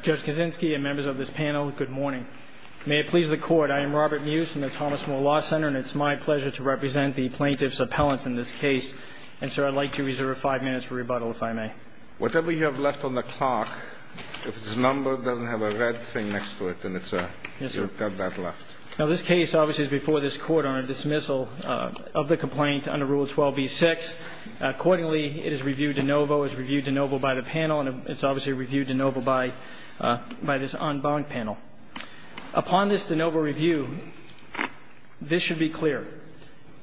Judge Kaczynski and members of this panel good morning. May it please the court I am Robert Muse from the Thomas Moore Law Center and it's my pleasure to represent the plaintiff's appellants in this case and so I'd like to reserve five minutes for rebuttal if I may. Whatever you have left on the clock if it's a number doesn't have a red thing next to it then it's a left. Now this case obviously is before this court on a dismissal of the complaint under Rule 12 b6 accordingly it is reviewed de novo is reviewed de novo by the panel and it's obviously reviewed de novo by this en banc panel. Upon this de novo review this should be clear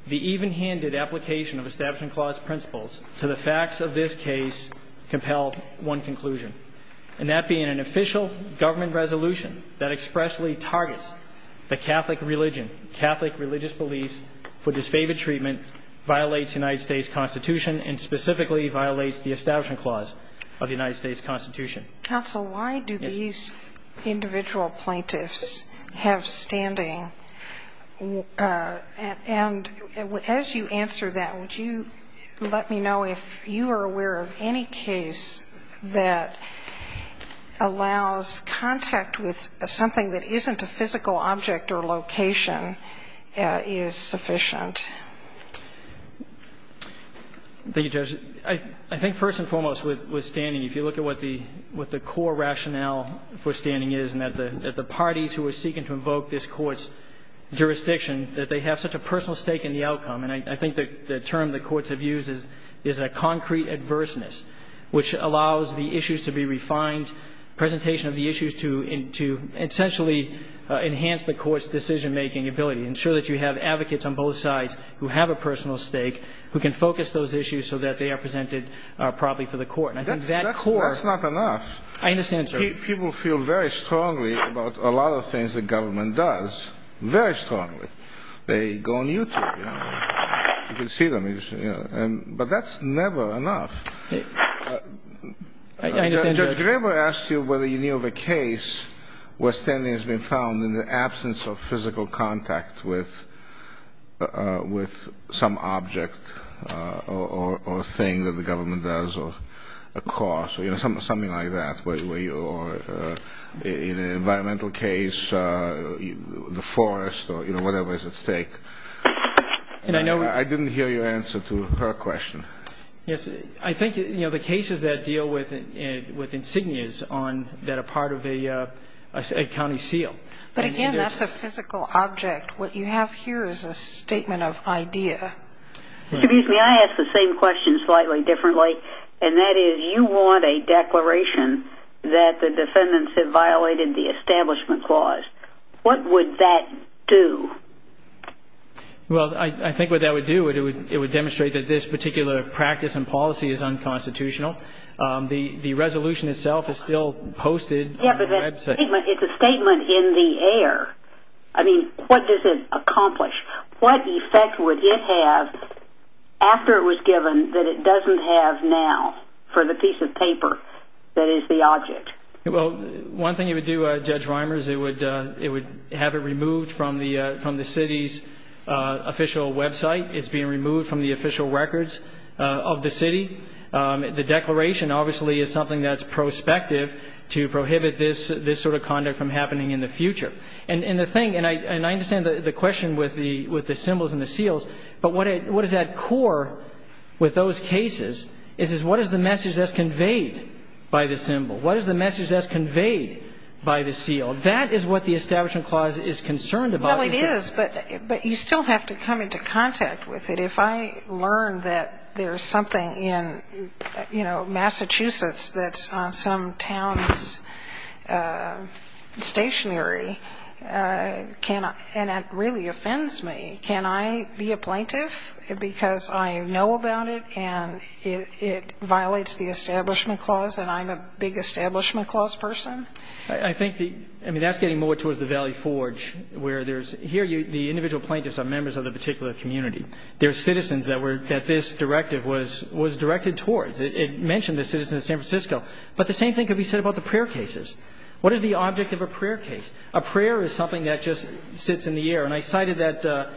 the even-handed application of Establishment Clause principles to the facts of this case compel one conclusion and that being an official government resolution that expressly targets the Catholic religion Catholic religious belief for disfavored treatment violates United States Constitution and specifically violates the Establishment Clause of the United States Constitution. Counsel why do these individual plaintiffs have standing and as you answer that would you let me know if you are aware of any case that allows contact with something that isn't a physical object or location is sufficient. Thank you Judge. I think first and foremost with with standing if you look at what the what the core rationale for standing is and that the that the parties who are seeking to invoke this court's jurisdiction that they have such a personal stake in the outcome and I think that the term the courts have used is is a concrete adverseness which allows the issues to be refined presentation of the issues to in to essentially enhance the court's decision-making ability ensure that you have advocates on both sides who have a personal stake who can focus those issues so that they are presented properly for the court. That's not enough. I understand. People feel very strongly about a lot of things the government does very strongly they go on YouTube you can see them you know and but that's never enough. Judge Graber asked you whether you knew of a case where standing has been found in the absence of something like that where you or in an environmental case the forest or you know whatever is at stake and I know I didn't hear your answer to her question yes I think you know the cases that deal with it with insignias on that a part of a county seal. But again that's a physical object what you have here is a I ask the same question slightly differently and that is you want a declaration that the defendants have violated the establishment clause what would that do? Well I think what that would do it would demonstrate that this particular practice and policy is unconstitutional the the resolution itself is still posted. It's a statement in the air I mean what does it have after it was given that it doesn't have now for the piece of paper that is the object? Well one thing you would do Judge Reimers it would it would have it removed from the from the city's official website it's being removed from the official records of the city the declaration obviously is something that's prospective to prohibit this this sort of conduct from happening in the future and in the thing and I and I understand the question with the with the symbols and the seals but what it what is that core with those cases is is what is the message that's conveyed by the symbol? What is the message that's conveyed by the seal? That is what the establishment clause is concerned about. Well it is but but you still have to come into contact with it if I learn that there's something in you know Massachusetts that's on some town's stationery can I and it really offends me can I be a plaintiff because I know about it and it violates the establishment clause and I'm a big establishment clause person? I think the I mean that's getting more towards the Valley Forge where there's here you the individual plaintiffs are members of the particular community. They're citizens that were that this directive was was directed towards it mentioned the citizens of San Francisco but the same have you said about the prayer cases? What is the object of a prayer case? A prayer is something that just sits in the air and I cited that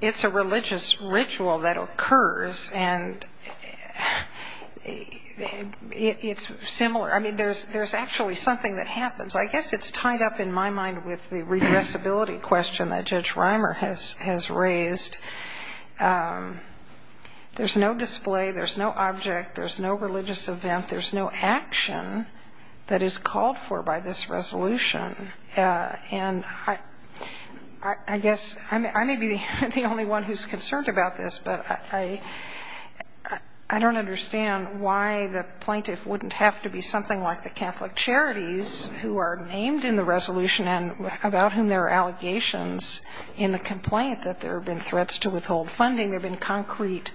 it's a religious ritual that occurs and it's similar I mean there's there's actually something that happens I guess it's tied up in my mind with the regressibility question that Judge Reimer has has raised. There's no display, there's no object, there's no religious event, there's no action that is called for by this resolution and I I guess I may be the only one who's concerned about this but I I don't understand why the plaintiff wouldn't have to be something like the Catholic Charities who are named in the resolution and about whom there are allegations in the complaint that there have been threats to withhold funding they've been concrete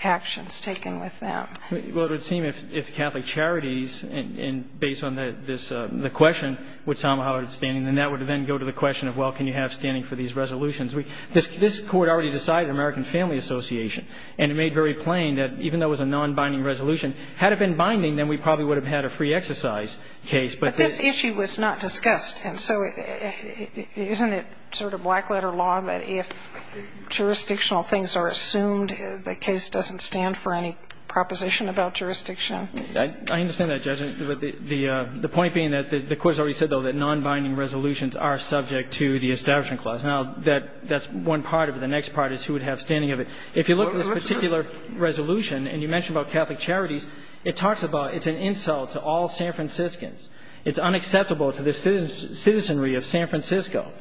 actions taken with them. Well it would seem if Catholic Charities and based on that this the question would somehow outstanding then that would then go to the question of well can you have standing for these resolutions we this this court already decided American Family Association and it made very plain that even though it was a non binding resolution had it been binding then we probably would have had a free exercise case. But this issue was not discussed and so isn't it sort of a black letter law that if jurisdictional things are assumed the case doesn't stand for any proposition about jurisdiction? I understand that Judge. The point being that the court has already said though that non binding resolutions are subject to the establishment clause. Now that that's one part of it. The next part is who would have standing of it. If you look at this particular resolution and you mentioned about Catholic Charities it talks about it's an insult to all San Franciscans. It's unacceptable to the citizenry of San Francisco.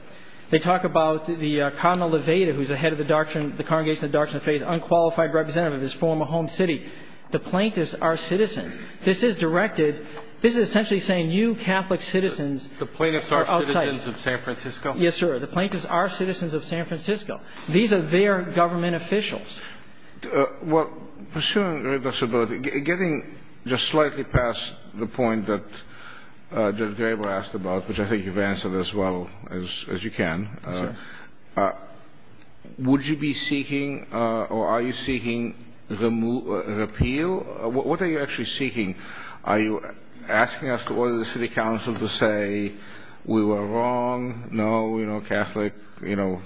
They talk about the Cardinal Levada who's the head of the Doctrine, the Congregation of the Doctrine of Faith, unqualified representative of his former home city. The plaintiffs are citizens. This is directed, this is essentially saying you Catholic citizens are outside. The plaintiffs are citizens of San Francisco? Yes sir. The plaintiffs are citizens of San Francisco. These are their government officials. Well pursuing your disability, getting just slightly past the point that Judge Graber asked about, which I think you've answered as well as you can. Yes sir. Would you be seeking or are you seeking a repeal? What are you actually seeking? Are you asking us to order the city council to say we were wrong? No, you know, Catholic, you know,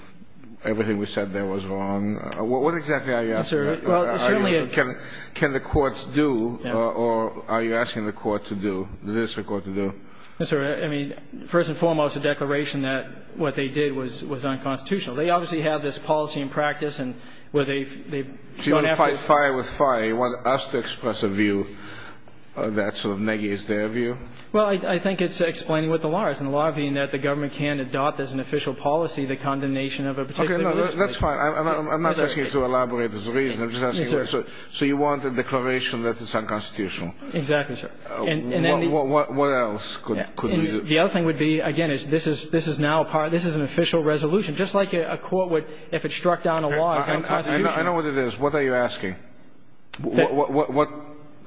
everything we said there was wrong. What exactly are you asking? Yes sir. Well certainly. Can the courts do or are you asking the court to do? Yes sir. I mean first and foremost the declaration that what they did was was unconstitutional. They obviously have this policy in practice and where they've gone after... So you want to fight fire with fire? You want us to express a view that sort of negates their view? Well I think it's explaining what the law is. And the law being that the government can adopt as an official policy the condemnation of a particular... Okay, no, that's fine. I'm not asking you to elaborate this reason. I'm just asking you... Yes sir. So you want a declaration that is unconstitutional? Exactly sir. And then... What else could you do? The other thing would be, again, is this is now a part, this is an official resolution. Just like a court would, if it struck down a law, it's unconstitutional. I know what it is. What are you asking?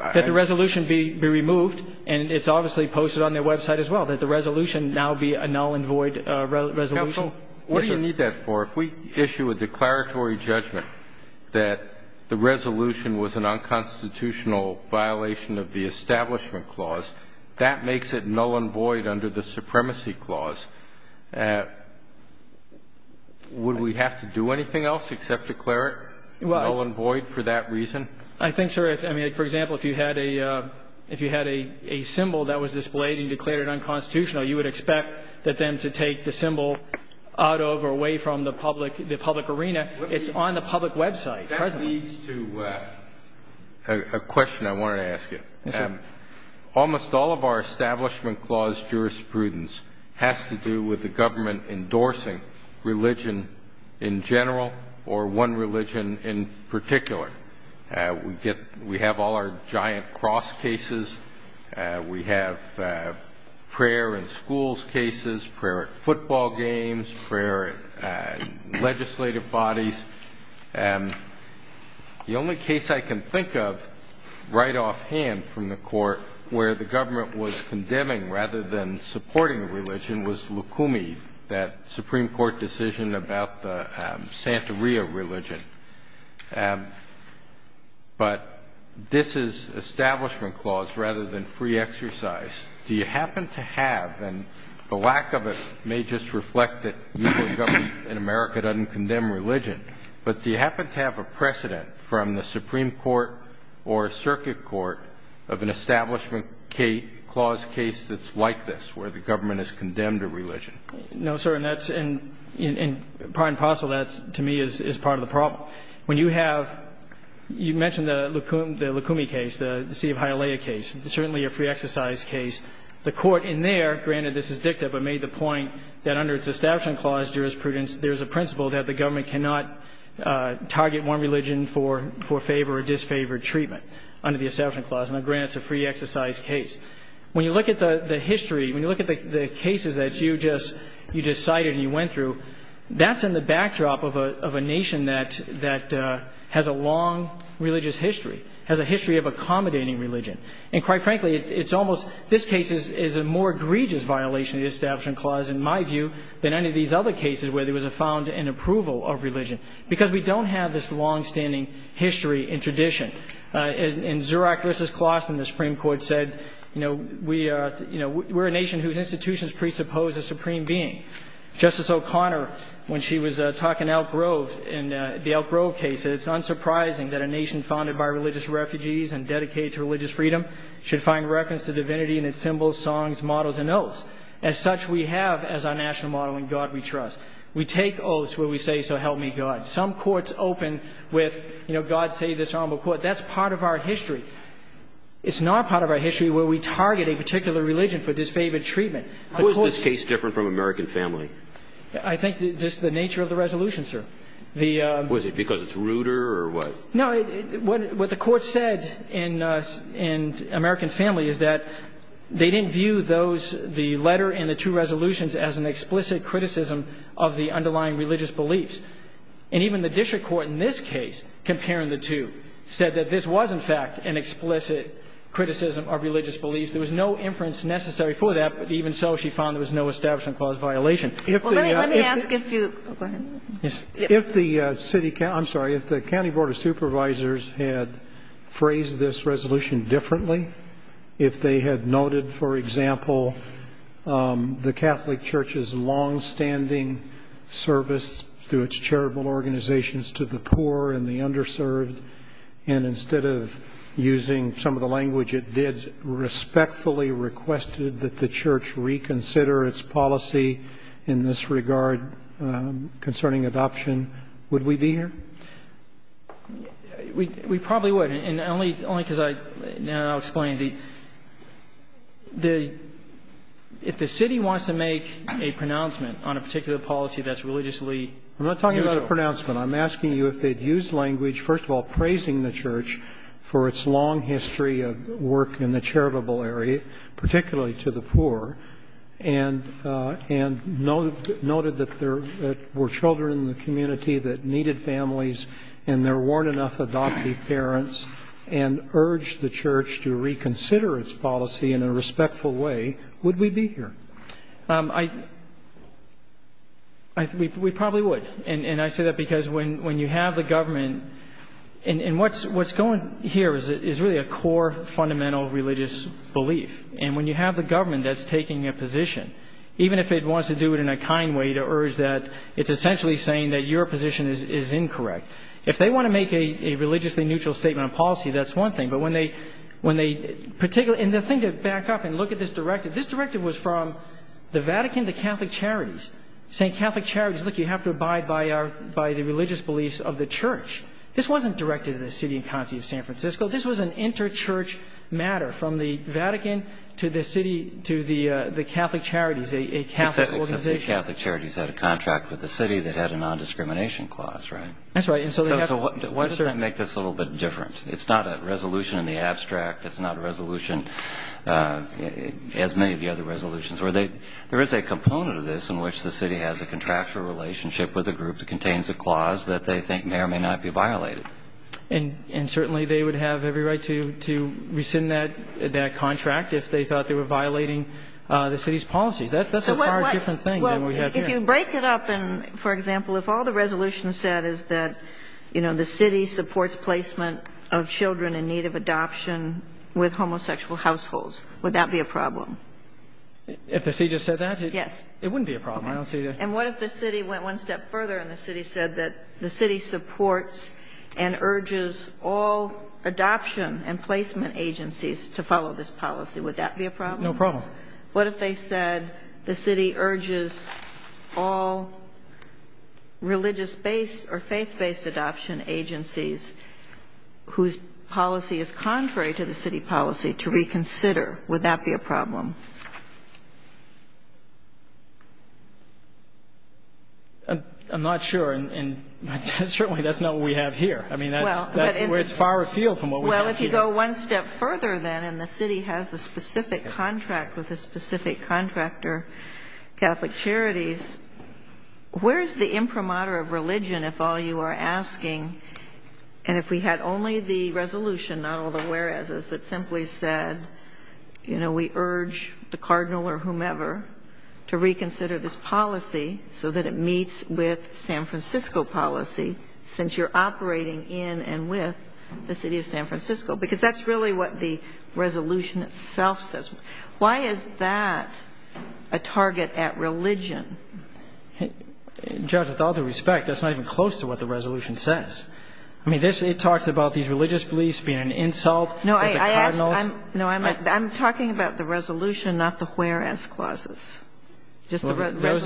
That the resolution be removed, and it's obviously posted on their website as well, that the resolution now be a null and void resolution. Counsel, what do you need that for? If we issue a declaratory judgment that the resolution was an unconstitutional violation of the Supremacy Clause, would we have to do anything else except declare it null and void for that reason? I think, sir, for example, if you had a symbol that was displayed and declared unconstitutional, you would expect them to take the symbol out of or away from the public arena. It's on the public website. That leads to a question I wanted to ask you. Almost all of our Establishment Clause jurisprudence has to do with the government endorsing religion in general or one religion in particular. We have all our giant cross cases. We have prayer in schools cases, prayer at football games, prayer at legislative bodies. The only case I can think of right offhand from the Court where the government was condemning rather than supporting religion was Lukumi, that Supreme Court decision about the Santa Ria religion. But this is Establishment Clause rather than free exercise. Do you happen to have, and the lack of it may just reflect that the U.S. government in America doesn't condemn religion, but do you happen to have a precedent from the Supreme Court or Circuit Court of an Establishment Clause case that's like this, where the government has condemned a religion? No, sir. And that's in — in part and parcel, that's, to me, is part of the problem. When you have — you mentioned the Lukumi case, the Sea of Hialeah case, certainly a free exercise case, the Court in there — granted, this is dicta, but made the point that under its Establishment Clause jurisprudence, there is a principle that the government cannot target one religion for favor or disfavor treatment under the Establishment Clause. Now, granted, it's a free exercise case. When you look at the history, when you look at the cases that you just — you just cited and you went through, that's in the backdrop of a nation that — that has a long religious history, has a history of accommodating religion. And quite frankly, it's almost — this case is a more egregious violation of the Establishment Clause, in my view, than any of these other cases where there was a — found an approval of religion, because we don't have this longstanding history and tradition. In Zuroch v. Clawson, the Supreme Court said, you know, we are — you know, we're a nation whose institutions presuppose a supreme being. Justice O'Connor, when she was talking Elk Grove in the Elk Grove case, said it's unsurprising that a nation founded by religious refugees and dedicated to religious freedom should find reference to divinity in its symbols, songs, models, and oaths. As such, we have, as our national model, in God we trust. We take oaths where we say, so help me God. Some courts open with, you know, God save this honorable court. That's part of our history. It's not part of our history where we target a particular religion for disfavored treatment. Who is this case different from American Family? I think just the nature of the resolution, sir. Was it because it's ruder or what? No, what the court said in American Family is that they didn't view those — the letter and the two resolutions as an explicit criticism of the underlying religious beliefs. There was no inference necessary for that, but even so, she found there was no establishment clause violation. Let me ask if you — go ahead. If the city — I'm sorry, if the County Board of Supervisors had phrased this resolution differently, if they had noted, for example, the Catholic Church's using some of the language it did, respectfully requested that the church reconsider its policy in this regard concerning adoption, would we be here? We probably would, and only because I — and I'll explain. The — if the city wants to make a pronouncement on a particular policy that's religiously neutral — If the city had a long history of work in the charitable area, particularly to the poor, and noted that there were children in the community that needed families and there weren't enough adoptive parents, and urged the church to reconsider its policy in a respectful way, would we be here? I — we probably would, and I say that because when you have the government — and what's going here is really a core fundamental religious belief. And when you have the government that's taking a position, even if it wants to do it in a kind way to urge that, it's essentially saying that your position is incorrect. If they want to make a religiously neutral statement on policy, that's one thing. But when they — when they — and the thing to back up and look at this directive, this directive was from the Vatican to Catholic Charities, saying Catholic Charities, look, you have to abide by our — by the religious beliefs of the church. This wasn't directed to the city and county of San Francisco. This was an inter-church matter from the Vatican to the city — to the Catholic Charities, a Catholic organization. Except the Catholic Charities had a contract with the city that had a nondiscrimination clause, right? That's right. And so they have to — So why does that make this a little bit different? It's not a resolution in the abstract. It's not a resolution, as many of the other resolutions, where they — there is a component of this in which the city has a contractual relationship with a group that contains a clause that they think may or may not be violated. And certainly they would have every right to rescind that contract if they thought they were violating the city's policies. That's a far different thing than we have here. If you break it up and, for example, if all the resolution said is that, you know, the city supports placement of children in need of adoption with homosexual households, would that be a problem? If the city just said that? Yes. It wouldn't be a problem. Okay. I don't see the — And what if the city went one step further and the city said that the city supports and urges all adoption and placement agencies to follow this policy? Would that be a problem? No problem. What if they said the city urges all religious-based or faith-based adoption agencies whose policy is contrary to the city policy to reconsider? Would that be a problem? I'm not sure. And certainly that's not what we have here. I mean, that's — Well, but — It's far afield from what we have here. Well, if you go one step further, then, and the city has a specific contract with a specific contractor, Catholic Charities, where is the imprimatur of religion, if all you are asking? And if we had only the resolution, not all the whereases, that simply said, you know, we urge the cardinal or whomever to reconsider this policy so that it meets with San Francisco policy, since you're operating in and with the city of San Francisco. Because that's really what the resolution itself says. Why is that a target at religion? Judge, with all due respect, that's not even close to what the resolution says. I mean, it talks about these religious beliefs being an insult to the cardinals. No, I'm talking about the resolution, not the whereas clauses. Just the resolution only.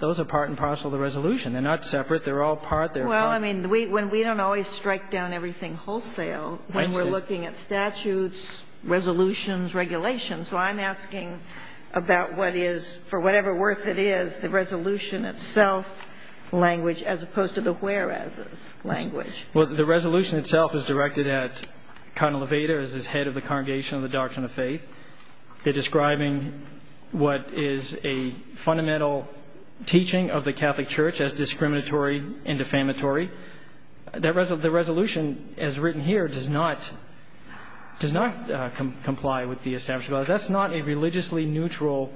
Those are part and parcel of the resolution. They're not separate. They're all part. They're part. Well, I mean, we don't always strike down everything wholesale when we're looking at statutes, resolutions, regulations. So I'm asking about what is, for whatever worth it is, the resolution itself, language, as opposed to the whereases language. Well, the resolution itself is directed at Cardinal Levater as his head of the Congregation of the Doctrine of Faith. They're describing what is a fundamental teaching of the Catholic Church as discriminatory and defamatory. The resolution, as written here, does not comply with the establishment. That's not a religiously neutral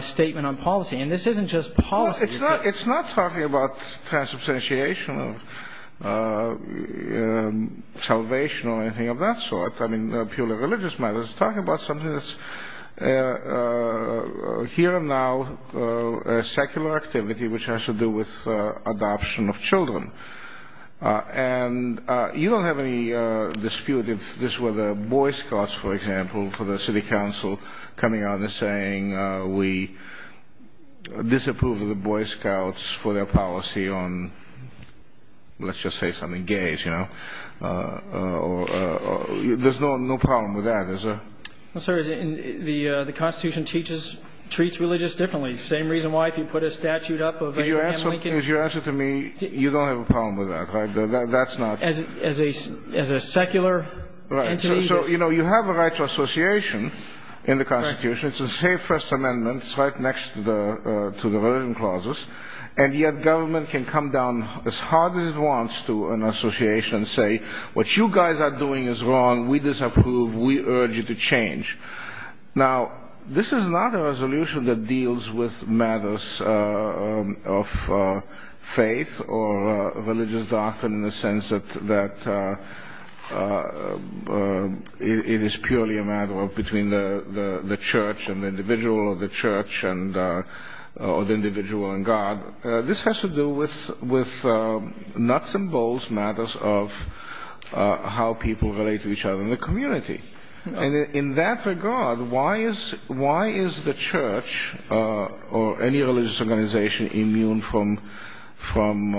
statement on policy. And this isn't just policy. It's not talking about transubstantiation or salvation or anything of that sort. I mean, purely religious matters. It's talking about something that's here and now a secular activity, which has to do with adoption of children. And you don't have any dispute if this were the Boy Scouts, for example, for the city council, coming out and saying, we disapprove of the Boy Scouts for their policy on, let's just say something, gays, you know. There's no problem with that. Sir, the Constitution treats religious differently. The same reason why if you put a statute up of Abraham Lincoln. If you ask it to me, you don't have a problem with that, right? That's not. As a secular entity. Right. So, you know, you have a right to association in the Constitution. It's the same First Amendment. It's right next to the religion clauses. And yet government can come down as hard as it wants to an association and say, what you guys are doing is wrong. We disapprove. We urge you to change. Now, this is not a resolution that deals with matters of faith or religious doctrine in the sense that it is purely a matter of between the church and the individual or the church and the individual and God. This has to do with with nuts and bolts matters of how people relate to each other in the community. And in that regard, why is why is the church or any religious organization immune from from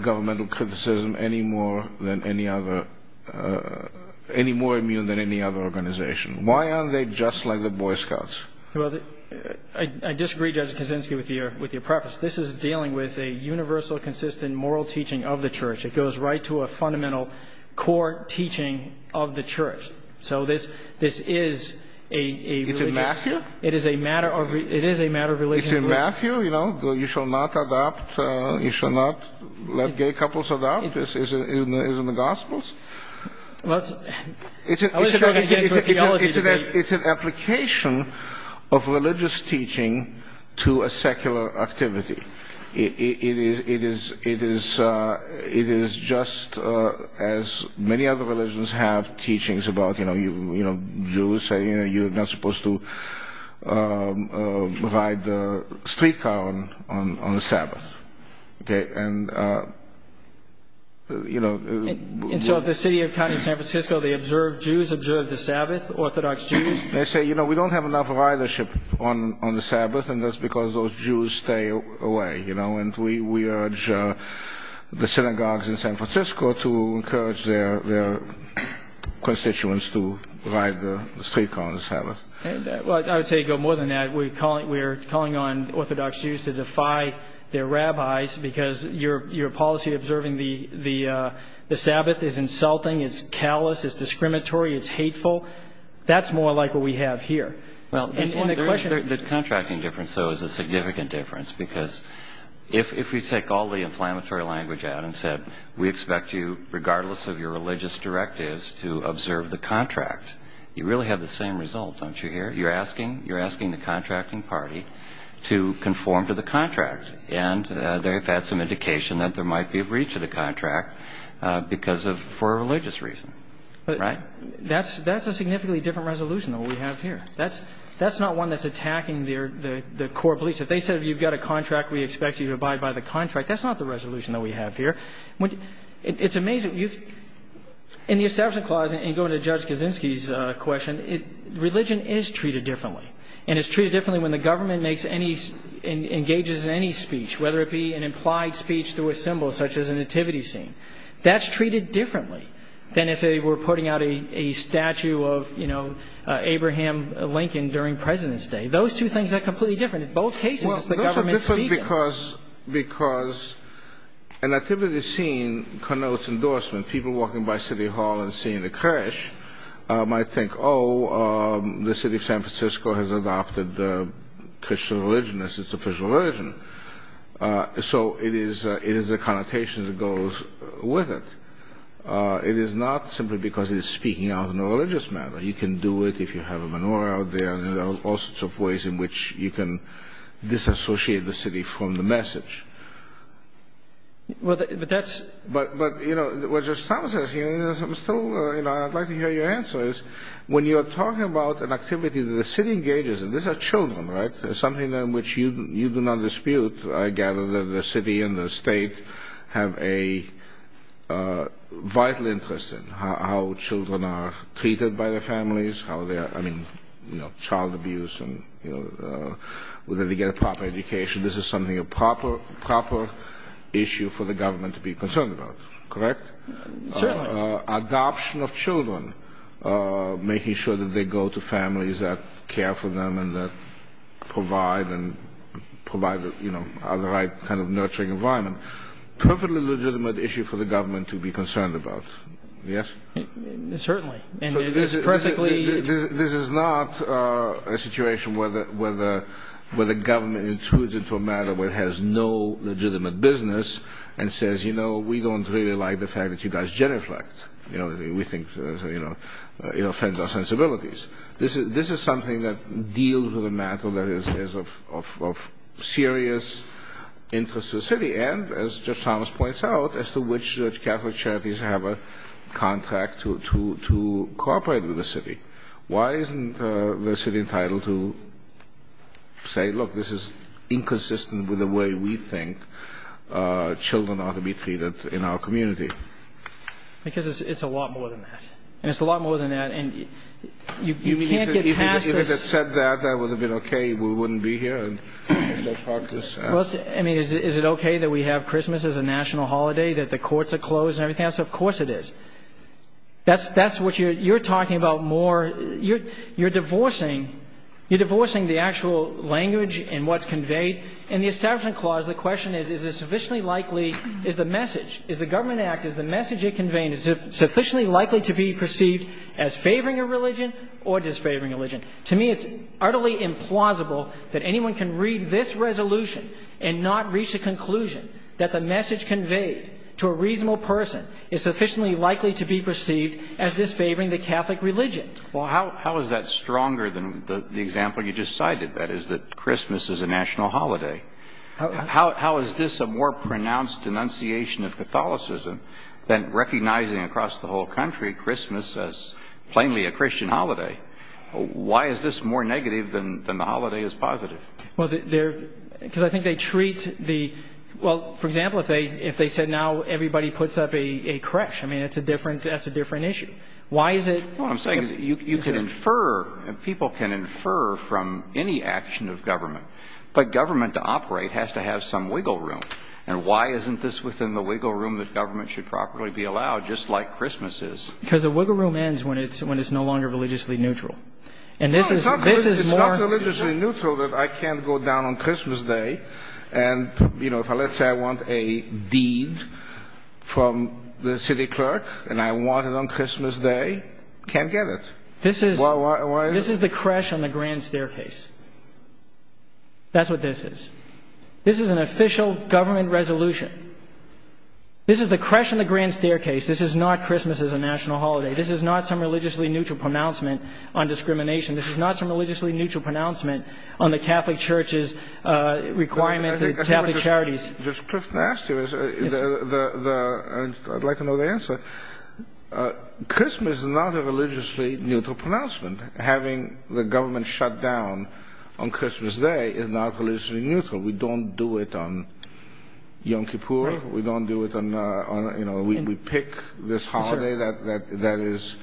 governmental criticism any more than any other any more immune than any other organization? Why are they just like the Boy Scouts? Well, I disagree, Judge Kaczynski, with your with your preface. This is dealing with a universal, consistent moral teaching of the church. It goes right to a fundamental core teaching of the church. So this this is a it is a matter of it is a matter of religion. Matthew, you know, you shall not adopt. You shall not let gay couples about this is in the gospels. It's an application of religious teaching to a secular activity. It is it is it is it is just as many other religions have teachings about, you know, you know, Jews say, you know, you're not supposed to ride the streetcar on the Sabbath. And, you know. And so the city of San Francisco, they observe Jews observe the Sabbath Orthodox Jews. They say, you know, we don't have enough ridership on on the Sabbath. And that's because those Jews stay away. You know, and we we urge the synagogues in San Francisco to encourage their constituents to ride the streetcar on the Sabbath. Well, I would say go more than that. We call it we're calling on Orthodox Jews to defy their rabbis because your your policy observing the the the Sabbath is insulting. It's callous. It's discriminatory. It's hateful. That's more like what we have here. Well, the contracting difference, though, is a significant difference, because if we take all the inflammatory language out and said we expect you, regardless of your religious directives, to observe the contract, you really have the same result. Don't you hear you're asking you're asking the contracting party to conform to the contract. And they've had some indication that there might be a breach of the contract because of for religious reason. But that's that's a significantly different resolution that we have here. That's that's not one that's attacking their the core beliefs. If they said you've got a contract, we expect you to abide by the contract. That's not the resolution that we have here. It's amazing you've in the assumption clause and go to Judge Kaczynski's question. It religion is treated differently and is treated differently when the government makes any engages in any speech, whether it be an implied speech through a symbol such as a nativity scene. That's treated differently than if they were putting out a statue of, you know, Abraham Lincoln during President's Day. Those two things are completely different in both cases. Because because a nativity scene connotes endorsement, people walking by City Hall and seeing the crash might think, oh, the city of San Francisco has adopted the Christian religion as its official religion. So it is it is a connotation that goes with it. It is not simply because he's speaking out in a religious manner. You can do it if you have a menorah out there. There are all sorts of ways in which you can disassociate the city from the message. Well, that's but but, you know, it was just something I'm still, you know, I'd like to hear your answer is when you are talking about an activity that the city engages in. These are children, right? Something in which you you do not dispute. I gather that the city and the state have a vital interest in how children are treated by their families, how they are. I mean, you know, child abuse and whether they get a proper education. This is something a proper proper issue for the government to be concerned about. Correct. Adoption of children, making sure that they go to families that care for them and that provide and provide, you know, the right kind of nurturing environment. Perfectly legitimate issue for the government to be concerned about. Yes, certainly. And this is perfectly. This is not a situation where the where the where the government intrudes into a matter where it has no legitimate business and says, you know, we don't really like the fact that you guys genuflect. You know, we think, you know, it offends our sensibilities. This is this is something that deals with a matter that is of serious interest to the city. And as just Thomas points out, as to which Catholic charities have a contract to to to cooperate with the city. Why isn't the city entitled to say, look, this is inconsistent with the way we think children ought to be treated in our community? Because it's a lot more than that. And it's a lot more than that. And you can't get past that. That would have been OK. We wouldn't be here. I mean, is it OK that we have Christmas as a national holiday, that the courts are closed and everything else? Of course it is. That's that's what you're talking about more. You're you're divorcing. You're divorcing the actual language and what's conveyed in the establishment clause. The question is, is it sufficiently likely? Is the message is the government act is the message it conveys sufficiently likely to be perceived as favoring a religion or disfavoring religion? To me, it's utterly implausible that anyone can read this resolution and not reach a conclusion that the message conveyed to a reasonable person is sufficiently likely to be perceived as disfavoring the Catholic religion. Well, how how is that stronger than the example you just cited? That is that Christmas is a national holiday. How is this a more pronounced denunciation of Catholicism than recognizing across the whole country Christmas as plainly a Christian holiday? Why is this more negative than the holiday is positive? Well, they're because I think they treat the well, for example, if they if they said now everybody puts up a correction, I mean, it's a different that's a different issue. Why is it what I'm saying? You can infer and people can infer from any action of government. But government to operate has to have some wiggle room. And why isn't this within the wiggle room that government should properly be allowed, just like Christmas is because the wiggle room ends when it's when it's no longer religiously neutral. And this is this is not religiously neutral that I can't go down on Christmas Day. And, you know, if I let's say I want a deed from the city clerk and I want it on Christmas Day, can't get it. This is why this is the crash on the Grand Staircase. That's what this is. This is an official government resolution. This is the crash on the Grand Staircase. This is not Christmas as a national holiday. This is not some religiously neutral pronouncement on discrimination. This is not some religiously neutral pronouncement on the Catholic Church's requirement to Catholic charities. Just to ask you, I'd like to know the answer. Christmas is not a religiously neutral pronouncement. Having the government shut down on Christmas Day is not religiously neutral. We don't do it on Yom Kippur. We don't do it on, you know, we pick this holiday that that that is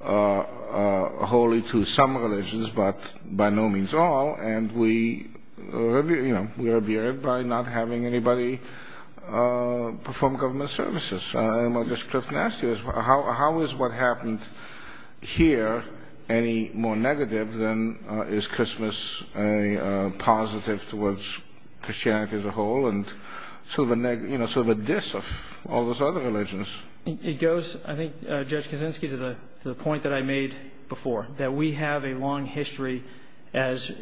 holy to some religions, but by no means all. And we, you know, we revere it by not having anybody perform government services. And I'll just ask you, how is what happened here any more negative than is Christmas a positive towards Christianity as a whole? And sort of a, you know, sort of a diss of all those other religions? It goes, I think, Judge Kaczynski, to the point that I made before, that we have a long history as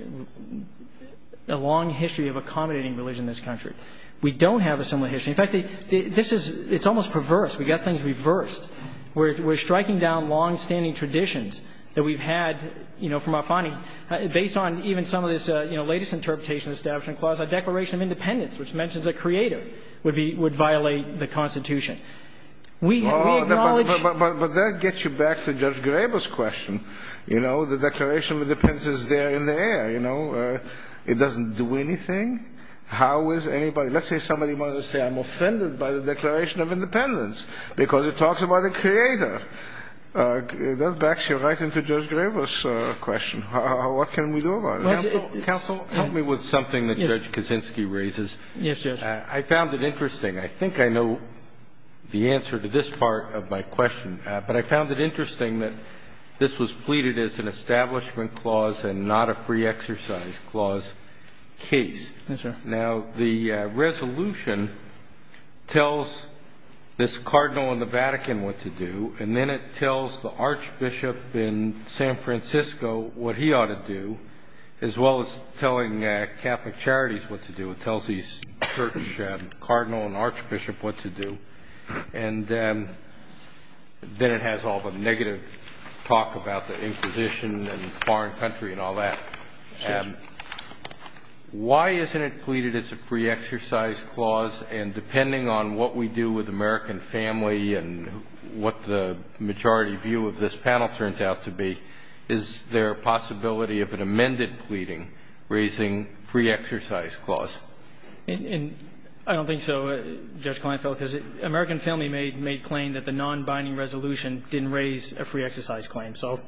a long history of accommodating religion in this country. We don't have a similar history. In fact, this is, it's almost perverse. We've got things reversed. We're striking down longstanding traditions that we've had, you know, from our finding, based on even some of this, you know, the latest interpretation of the Establishment Clause, a Declaration of Independence, which mentions a creator, would be, would violate the Constitution. We acknowledge. But that gets you back to Judge Graber's question. You know, the Declaration of Independence is there in the air, you know. It doesn't do anything. How is anybody, let's say somebody wanted to say I'm offended by the Declaration of Independence because it talks about a creator. That backs you right into Judge Graber's question. What can we do about it? Counsel, help me with something that Judge Kaczynski raises. Yes, Judge. I found it interesting. I think I know the answer to this part of my question. But I found it interesting that this was pleaded as an Establishment Clause and not a Free Exercise Clause case. Yes, sir. Now, the resolution tells this Cardinal in the Vatican what to do, and then it tells the Archbishop in San Francisco what he ought to do, as well as telling Catholic Charities what to do. It tells the Church Cardinal and Archbishop what to do. And then it has all the negative talk about the Inquisition and foreign country and all that. Yes. And why isn't it pleaded as a Free Exercise Clause? And depending on what we do with American Family and what the majority view of this panel turns out to be, is there a possibility of an amended pleading raising Free Exercise Clause? I don't think so, Judge Kleinfeld, because American Family made claim that the non-binding resolution didn't raise a Free Exercise Claim. So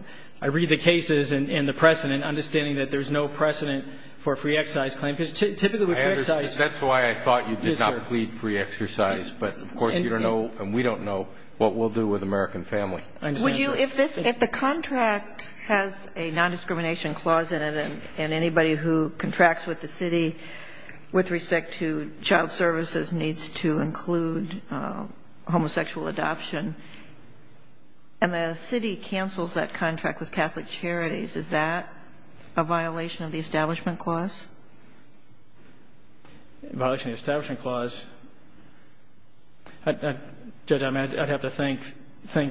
I read the cases and the precedent, understanding that there's no precedent for a Free Exercise Claim. Because typically with Free Exercise – That's why I thought you did not plead Free Exercise. But, of course, you don't know and we don't know what we'll do with American Family. I understand, sir. If the contract has a non-discrimination clause in it and anybody who contracts with the city with respect to child services needs to include homosexual adoption and the city cancels that contract with Catholic Charities, is that a violation of the Establishment Clause? Violation of the Establishment Clause? Judge, I'd have to think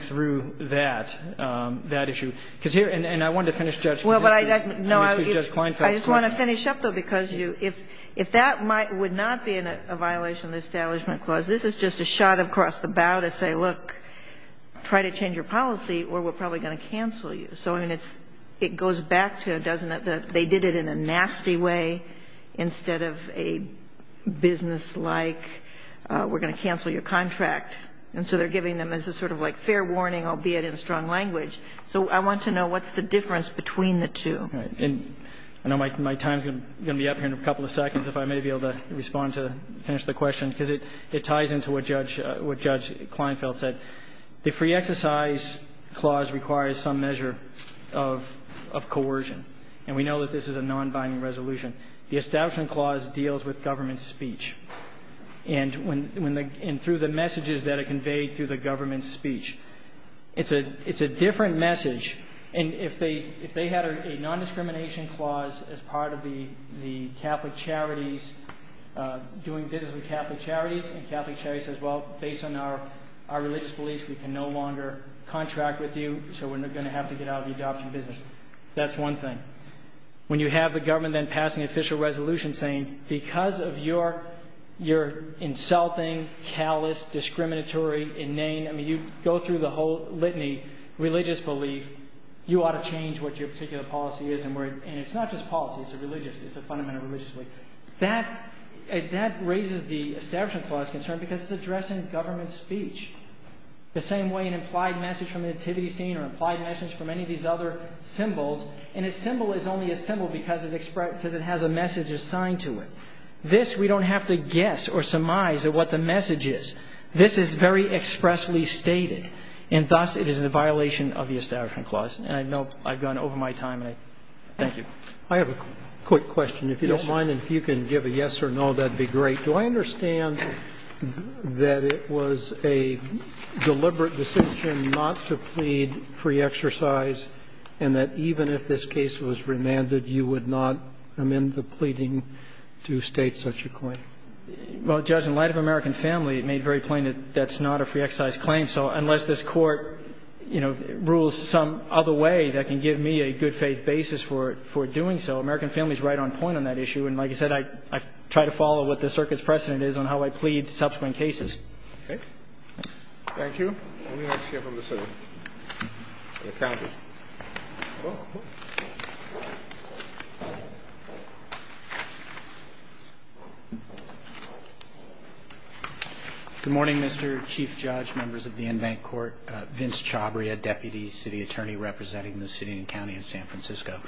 through that, that issue. Because here – and I wanted to finish, Judge. Well, but I – no, I just want to finish up, though, because you – if that might not be a violation of the Establishment Clause, this is just a shot across the bow to say, look, try to change your policy or we're probably going to cancel you. So, I mean, it's – it goes back to, doesn't it, that they did it in a nasty way instead of a businesslike, we're going to cancel your contract. And so they're giving them as a sort of like fair warning, albeit in a strong language. So I want to know what's the difference between the two. All right. And I know my time is going to be up here in a couple of seconds, if I may be able to respond to finish the question, because it ties into what Judge – what Judge Kleinfeld said. The Free Exercise Clause requires some measure of coercion. And we know that this is a non-binding resolution. The Establishment Clause deals with government speech. And when the – and through the messages that are conveyed through the government speech, it's a – it's a different message. And if they – if they had a non-discrimination clause as part of the Catholic Charities doing business with Catholic Charities and Catholic Charities says, well, based on our religious beliefs, we can no longer contract with you, so we're going to have to get out of the adoption business. That's one thing. When you have the government then passing an official resolution saying, because of your – your insulting, callous, discriminatory, inane – I mean, you go through the whole religious belief, you ought to change what your particular policy is. And we're – and it's not just policy. It's a religious – it's a fundamental religious belief. That – that raises the Establishment Clause concern because it's addressing government speech. The same way an implied message from a nativity scene or implied message from any of these other symbols – and a symbol is only a symbol because it – because it has a message assigned to it. This, we don't have to guess or surmise at what the message is. This is very expressly stated, and thus it is a violation of the Establishment Clause. And I know I've gone over my time, and I – thank you. I have a quick question. Yes. If you don't mind and if you can give a yes or no, that would be great. Do I understand that it was a deliberate decision not to plead pre-exercise and that even if this case was remanded, you would not amend the pleading to state such a claim? Well, Judge, in light of American Family, it made very plain that that's not a pre-exercise claim. So unless this Court, you know, rules some other way that can give me a good-faith basis for – for doing so, American Family is right on point on that issue. And like I said, I – I try to follow what the circuit's precedent is on how I plead subsequent cases. Okay. Thank you. Let me ask you a question. The County. Good morning, Mr. Chief Judge, members of the Invent Court. Vince Chabria, Deputy City Attorney representing the city and county of San Francisco.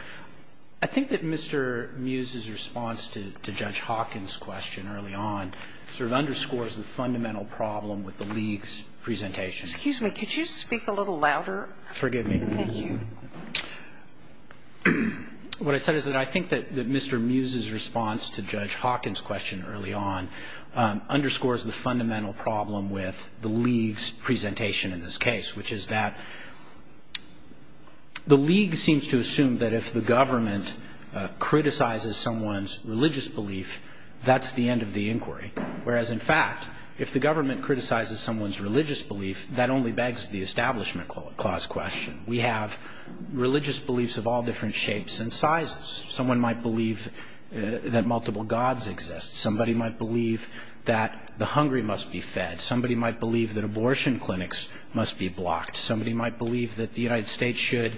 I think that Mr. Mews's response to Judge Hawkins' question early on sort of underscores the fundamental problem with the League's presentation. Excuse me. Could you speak a little louder? Forgive me. Thank you. What I said is that I think that Mr. Mews's response to Judge Hawkins' question early on underscores the fundamental problem with the League's presentation in this case, which is that the League seems to assume that if the government criticizes someone's religious belief, that only begs the establishment clause question. We have religious beliefs of all different shapes and sizes. Someone might believe that multiple gods exist. Somebody might believe that the hungry must be fed. Somebody might believe that abortion clinics must be blocked. Somebody might believe that the United States should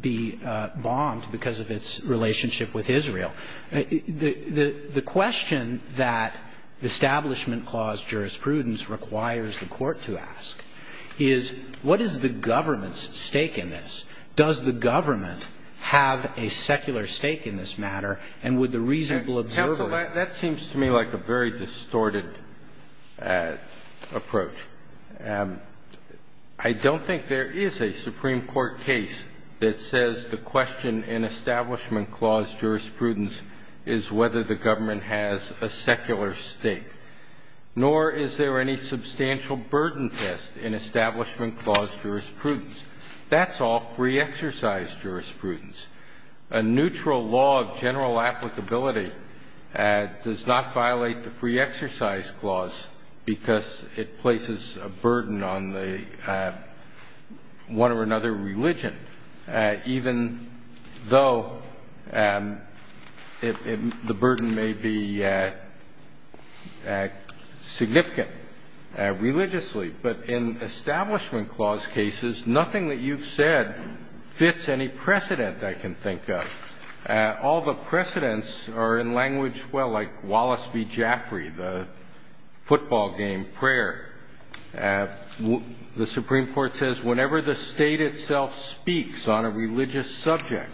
be bombed because of its relationship with Israel. The question that the Establishment Clause jurisprudence requires the Court to ask is, what is the government's stake in this? Does the government have a secular stake in this matter? And would the reasonable observer of it? Counsel, that seems to me like a very distorted approach. I don't think there is a Supreme Court case that says the question in Establishment Clause jurisprudence is whether the government has a secular stake, nor is there any substantial burden test in Establishment Clause jurisprudence. That's all free-exercise jurisprudence. A neutral law of general applicability does not violate the free-exercise clause because it places a burden on one or another religion, even though the burden may be significant religiously. But in Establishment Clause cases, nothing that you've said fits any precedent I can think of. All the precedents are in language, well, like Wallace v. Jaffrey, the football game, prayer. The Supreme Court says whenever the state itself speaks on a religious subject,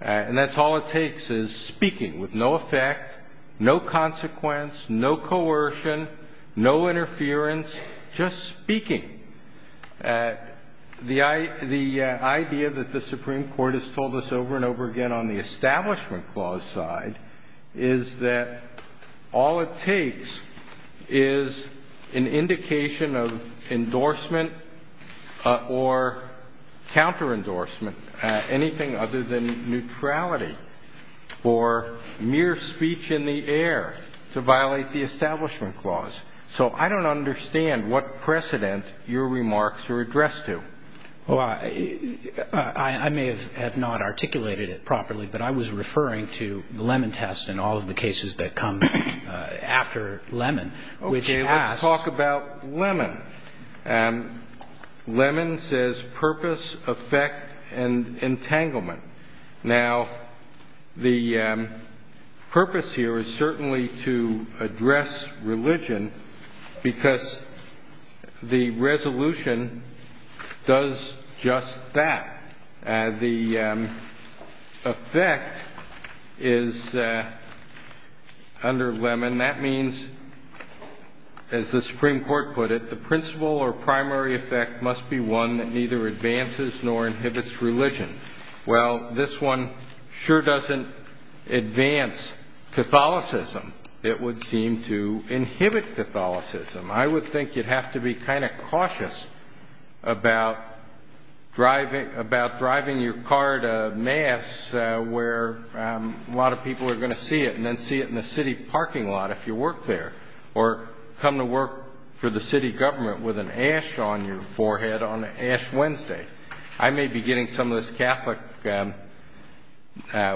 and that's all it takes is speaking with no effect, no consequence, no coercion, no interference, just speaking. The idea that the Supreme Court has told us over and over again on the Establishment Clause side is that all it takes is an indication of endorsement or counter-endorsement, anything other than neutrality or mere speech in the air to violate the Establishment Clause. So I don't understand what precedent your remarks are addressed to. Well, I may have not articulated it properly, but I was referring to the Lemon Test and all of the cases that come after Lemon, which asks... Okay, let's talk about Lemon. Lemon says purpose, effect, and entanglement. Now, the purpose here is certainly to address religion because the resolution does just that. The effect is under Lemon. That means, as the Supreme Court put it, the principal or primary effect must be one that neither advances nor inhibits religion. Well, this one sure doesn't advance Catholicism. It would seem to inhibit Catholicism. I would think you'd have to be kind of cautious about driving your car to Mass where a lot of people are going to see it and then see it in the city parking lot if you work there or come to work for the city government with an ash on your forehead on Ash Wednesday. I may be getting some of those Catholic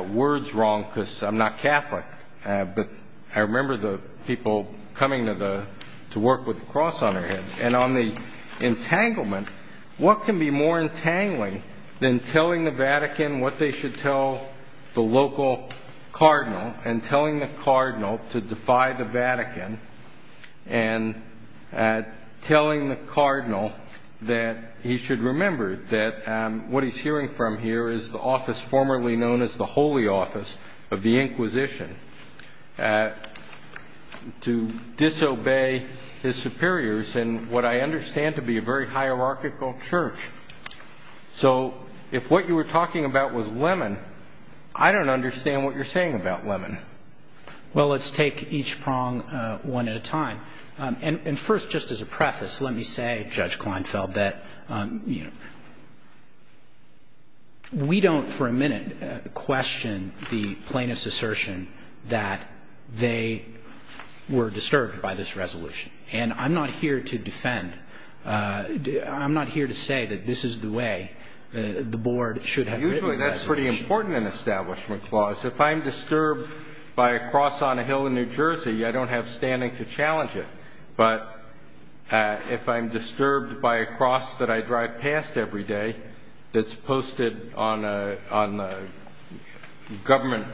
words wrong because I'm not Catholic, but I remember the people coming to work with the cross on their heads. And on the entanglement, what can be more entangling than telling the Vatican what they should tell the local cardinal and telling the cardinal to defy the Vatican and telling the cardinal that he should remember that what he's hearing from here is the office formerly known as the Holy Office of the Inquisition to disobey his superiors in what I understand to be a very hierarchical church. So if what you were talking about was Lemon, I don't understand what you're saying about Lemon. Well, let's take each prong one at a time. And first, just as a preface, let me say, Judge Kleinfeld, that we don't for a minute question the plaintiff's assertion that they were disturbed by this resolution. And I'm not here to defend. I'm not here to say that this is the way the board should have written the resolution. Usually that's pretty important in an establishment clause. If I'm disturbed by a cross on a hill in New Jersey, I don't have standing to challenge it. But if I'm disturbed by a cross that I drive past every day that's posted on a government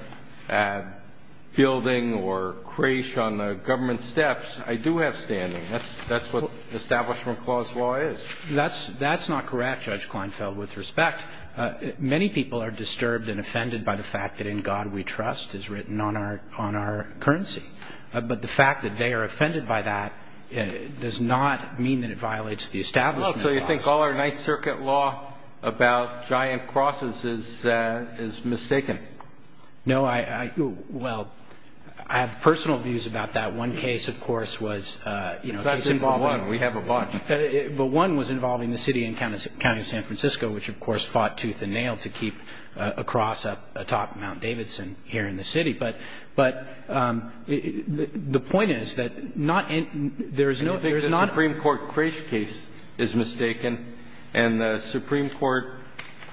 building or creche on the government steps, I do have standing. That's what an establishment clause law is. That's not correct, Judge Kleinfeld, with respect. Many people are disturbed and offended by the fact that in God we trust is written on our currency. But the fact that they are offended by that does not mean that it violates the establishment clause. So you think all our Ninth Circuit law about giant crosses is mistaken? No, I – well, I have personal views about that. One case, of course, was, you know, a simple one. We have a bunch. But one was involving the city and county of San Francisco, which, of course, fought tooth and nail to keep a cross up atop Mount Davidson here in the city. But the point is that not – there is no – there is not – Do you think the Supreme Court creche case is mistaken and the Supreme Court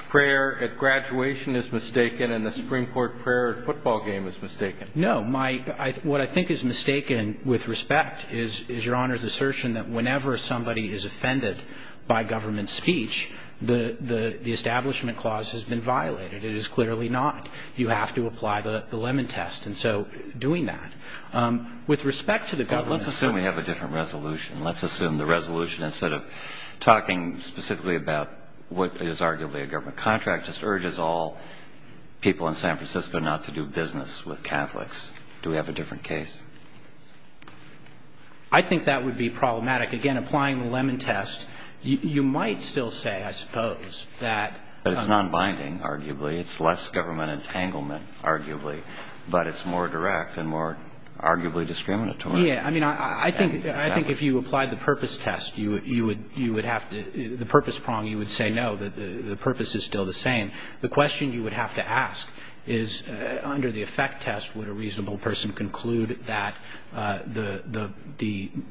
prayer at graduation is mistaken and the Supreme Court prayer at football game is mistaken? No. My – what I think is mistaken with respect is Your Honor's assertion that whenever somebody is offended by government speech, the establishment clause has been violated. It is clearly not. You have to apply the lemon test. And so doing that, with respect to the government – Well, let's assume we have a different resolution. Let's assume the resolution, instead of talking specifically about what is arguably a government contract, just urges all people in San Francisco not to do business with Catholics. Do we have a different case? I think that would be problematic. Again, applying the lemon test, you might still say, I suppose, that – But it's nonbinding, arguably. It's less government entanglement, arguably. But it's more direct and more arguably discriminatory. Yeah. I mean, I think if you applied the purpose test, you would have to – the purpose prong, you would say, no, the purpose is still the same. The question you would have to ask is, under the effect test, would a reasonable person conclude that the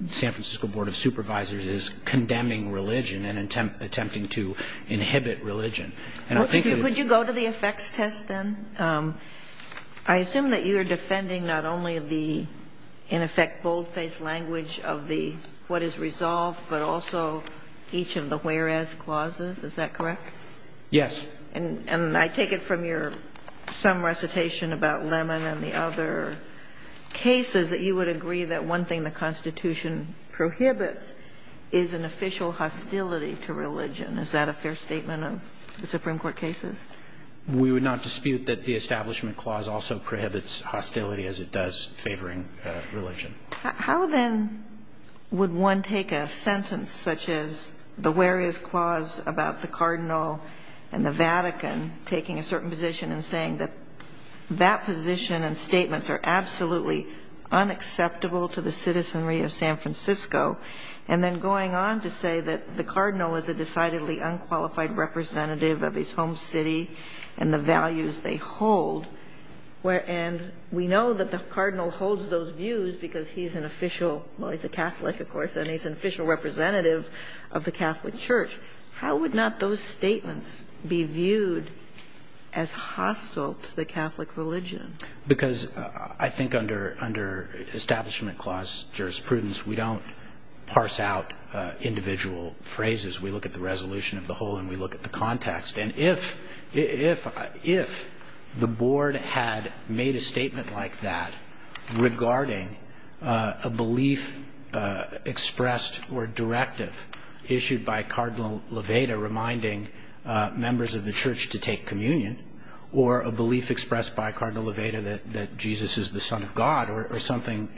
San Francisco Board of Supervisors is condemning religion and attempting to inhibit religion? And I think that – Could you go to the effects test, then? I assume that you are defending not only the, in effect, bold-faced language of the – Yes. And I take it from your – some recitation about lemon and the other cases that you would agree that one thing the Constitution prohibits is an official hostility to religion. Is that a fair statement of the Supreme Court cases? We would not dispute that the Establishment Clause also prohibits hostility, as it does favoring religion. How, then, would one take a sentence such as the where is clause about the Cardinal and the Vatican taking a certain position and saying that that position and statements are absolutely unacceptable to the citizenry of San Francisco, and then going on to say that the Cardinal is a decidedly unqualified representative of his home city and the values they hold? And we know that the Cardinal holds those views because he's an official – well, he's a Catholic, of course, and he's an official representative of the Catholic Church. How would not those statements be viewed as hostile to the Catholic religion? Because I think under Establishment Clause jurisprudence, we don't parse out individual phrases. We look at the resolution of the whole and we look at the context. And if the board had made a statement like that regarding a belief expressed or directive issued by Cardinal Levada reminding members of the church to take communion or a belief expressed by Cardinal Levada that Jesus is the son of God or something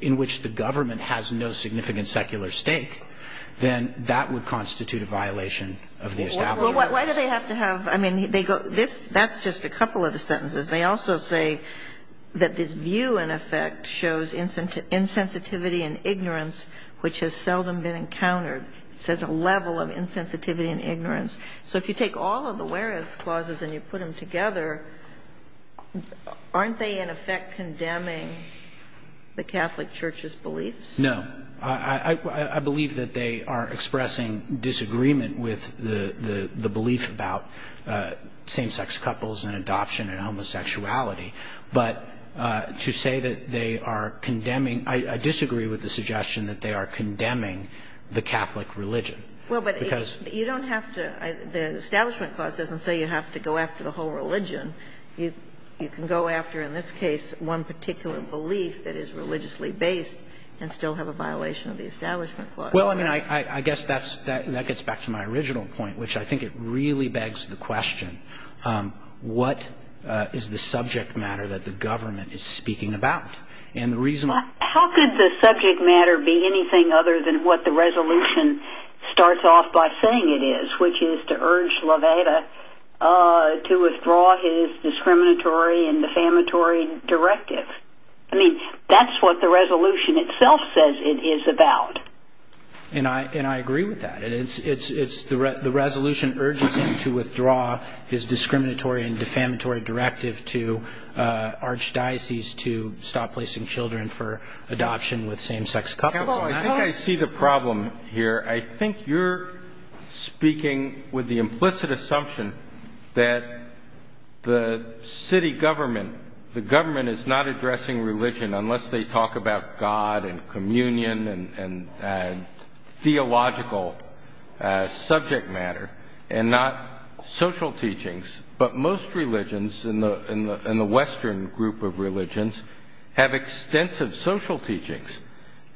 in which the government has no significant secular stake, then that would constitute a violation of the Establishment Clause. Well, why do they have to have – I mean, they go – that's just a couple of the sentences. They also say that this view in effect shows insensitivity and ignorance, which has seldom been encountered. It says a level of insensitivity and ignorance. So if you take all of the whereas clauses and you put them together, aren't they in effect condemning the Catholic Church's beliefs? No. I believe that they are expressing disagreement with the belief about same-sex couples and adoption and homosexuality. But to say that they are condemning – I disagree with the suggestion that they are condemning the Catholic religion. Well, but you don't have to – the Establishment Clause doesn't say you have to go after the whole religion. You can go after, in this case, one particular belief that is religiously based and still have a violation of the Establishment Clause. Well, I mean, I guess that gets back to my original point, which I think it really begs the question, what is the subject matter that the government is speaking about? And the reason – How could the subject matter be anything other than what the resolution starts off by saying it is, which is to urge Levada to withdraw his discriminatory and defamatory directive? I mean, that's what the resolution itself says it is about. And I agree with that. The resolution urges him to withdraw his discriminatory and defamatory directive to archdiocese to stop placing children for adoption with same-sex couples. Campbell, I think I see the problem here. I think you're speaking with the implicit assumption that the city government, the government is not addressing religion unless they talk about God and communion and theological subject matter and not social teachings. But most religions in the Western group of religions have extensive social teachings.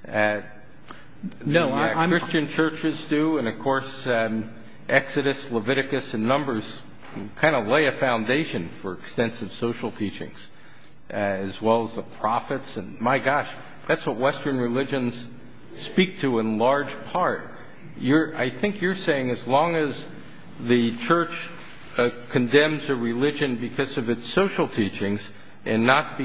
Christian churches do, and, of course, Exodus, Leviticus, and Numbers kind of lay a foundation for extensive social teachings as well as the prophets. My gosh, that's what Western religions speak to in large part. I think you're saying as long as the church condemns a religion because of its social teachings and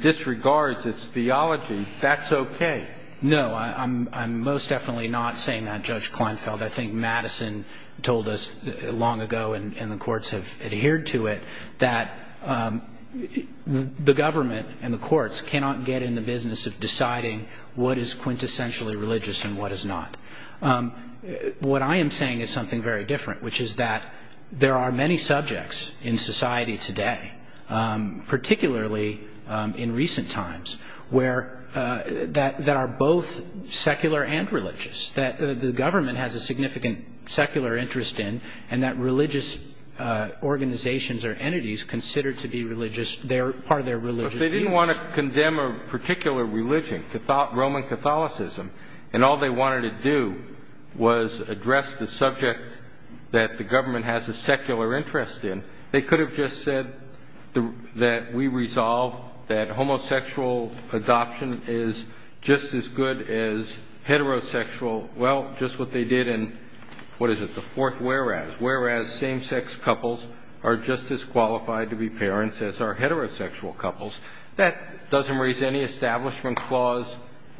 disregards its theology, that's okay. No, I'm most definitely not saying that, Judge Kleinfeld. I think Madison told us long ago, and the courts have adhered to it, that the government and the courts cannot get in the business of deciding what is quintessentially religious and what is not. What I am saying is something very different, which is that there are many subjects in society today, particularly in recent times, that are both secular and religious. That the government has a significant secular interest in and that religious organizations or entities consider to be part of their religious beliefs. But if they didn't want to condemn a particular religion, Roman Catholicism, and all they wanted to do was address the subject that the government has a secular interest in, they could have just said that we resolve that homosexual adoption is just as good as heterosexual, well, just what they did in, what is it, the fourth whereas. Whereas same-sex couples are just as qualified to be parents as are heterosexual couples. That doesn't raise any establishment clause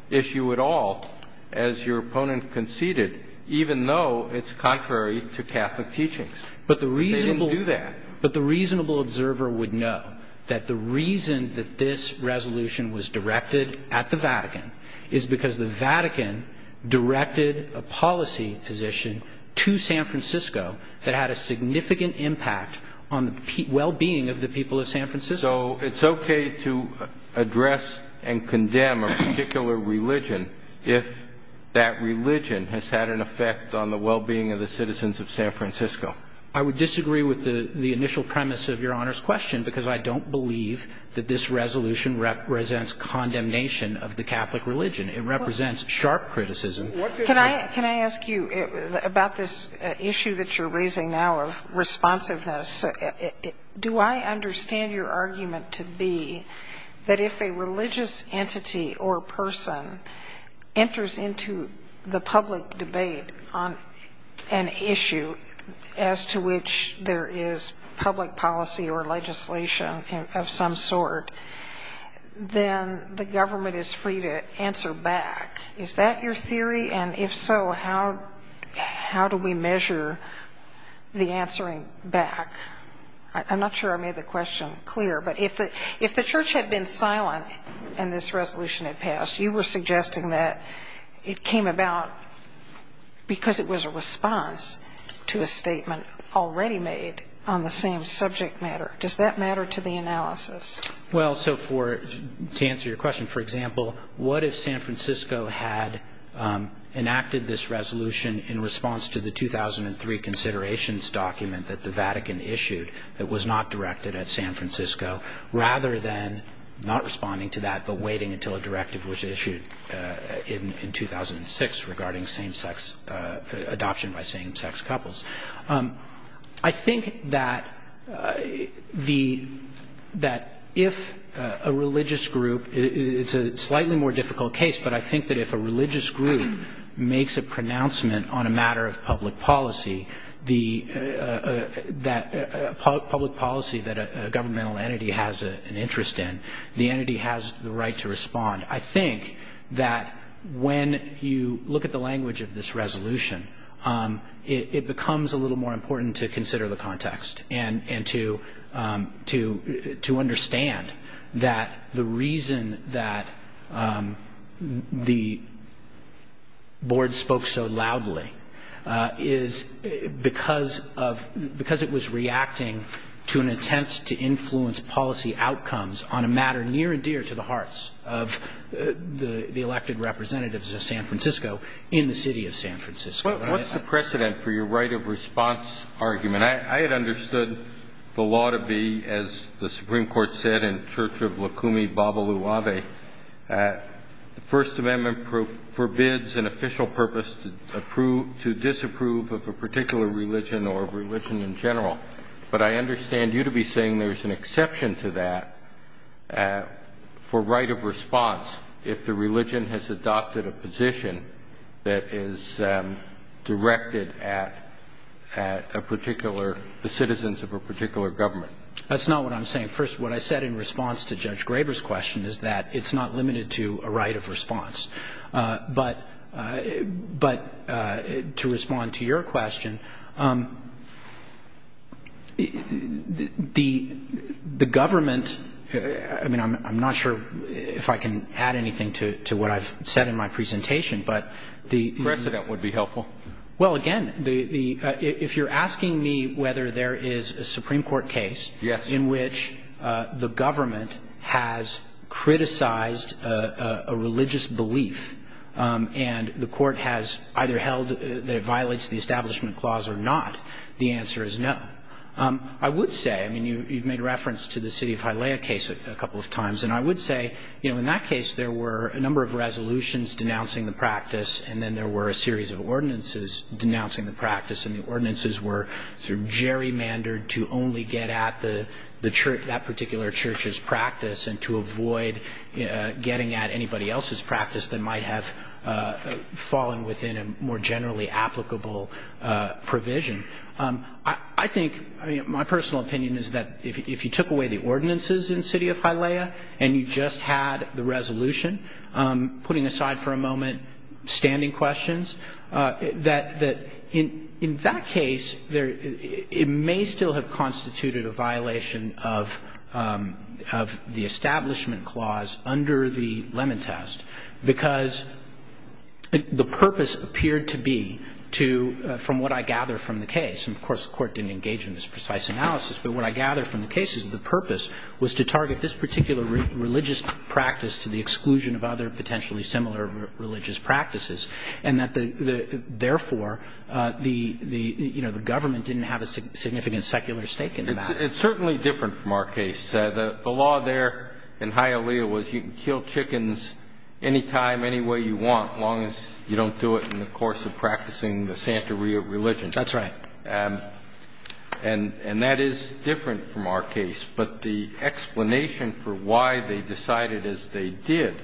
issue at all, as your opponent conceded, even though it's contrary to Catholic teachings. But they didn't do that. But the reasonable observer would know that the reason that this resolution was directed at the Vatican is because the Vatican directed a policy position to San Francisco that had a significant impact on the well-being of the people of San Francisco. So it's okay to address and condemn a particular religion if that religion has had an effect on the well-being of the citizens of San Francisco. I would disagree with the initial premise of Your Honor's question because I don't believe that this resolution represents condemnation of the Catholic religion. It represents sharp criticism. Can I ask you, about this issue that you're raising now of responsiveness, do I understand your argument to be that if a religious entity or person enters into the public debate on an issue as to which there is public policy or legislation of some sort, then the government is free to answer back? Is that your theory? And if so, how do we measure the answering back? I'm not sure I made the question clear. But if the Church had been silent and this resolution had passed, you were suggesting that it came about because it was a response to a statement already made on the same subject matter. Does that matter to the analysis? Well, so to answer your question, for example, what if San Francisco had enacted this resolution in response to the 2003 considerations document that the Vatican issued that was not directed at San Francisco, rather than not responding to that but waiting until a directive was issued in 2006 regarding same-sex adoption by same-sex couples? I think that if a religious group, it's a slightly more difficult case, but I think that if a religious group makes a pronouncement on a matter of public policy, a public policy that a governmental entity has an interest in, the entity has the right to respond. I think that when you look at the language of this resolution, it becomes a little more important to consider the context and to understand that the reason that the Board spoke so loudly is because it was reacting to an attempt to influence policy outcomes on a matter near and dear to the hearts of the elected representatives of San Francisco in the city of San Francisco. What's the precedent for your right of response argument? I had understood the law to be, as the Supreme Court said in Church of Lukumi Babaluwabe, the First Amendment forbids an official purpose to disapprove of a particular religion or religion in general. But I understand you to be saying there's an exception to that for right of response if the religion has adopted a position that is directed at a particular, the citizens of a particular government. That's not what I'm saying. First, what I said in response to Judge Graber's question is that it's not limited to a right of response. But to respond to your question, the government, I mean, I'm not sure if I can add anything to what I've said in my presentation, but the precedent would be helpful. Well, again, if you're asking me whether there is a Supreme Court case in which the government has criticized a religious belief and the court has either held that it violates the Establishment Clause or not, the answer is no. I would say, I mean, you've made reference to the city of Hialeah case a couple of times, and I would say, you know, in that case there were a number of resolutions denouncing the practice and then there were a series of ordinances denouncing the practice, and the ordinances were sort of gerrymandered to only get at that particular church's practice and to avoid getting at anybody else's practice that might have fallen within a more generally applicable provision. I think, I mean, my personal opinion is that if you took away the ordinances in the city of Hialeah and you just had the resolution, putting aside for a moment standing questions, that in that case it may still have constituted a violation of the Establishment Clause under the Lemon Test because the purpose appeared to be to, from what I gather from the case, and of course the Court didn't engage in this precise analysis, but what I gather from the case is the purpose was to target this particular religious practice to the exclusion of other potentially similar religious practices, and that therefore the government didn't have a significant secular stake in that. It's certainly different from our case. The law there in Hialeah was you can kill chickens anytime, any way you want as long as you don't do it in the course of practicing the Santa Ria religion. That's right. And that is different from our case, but the explanation for why they decided as they did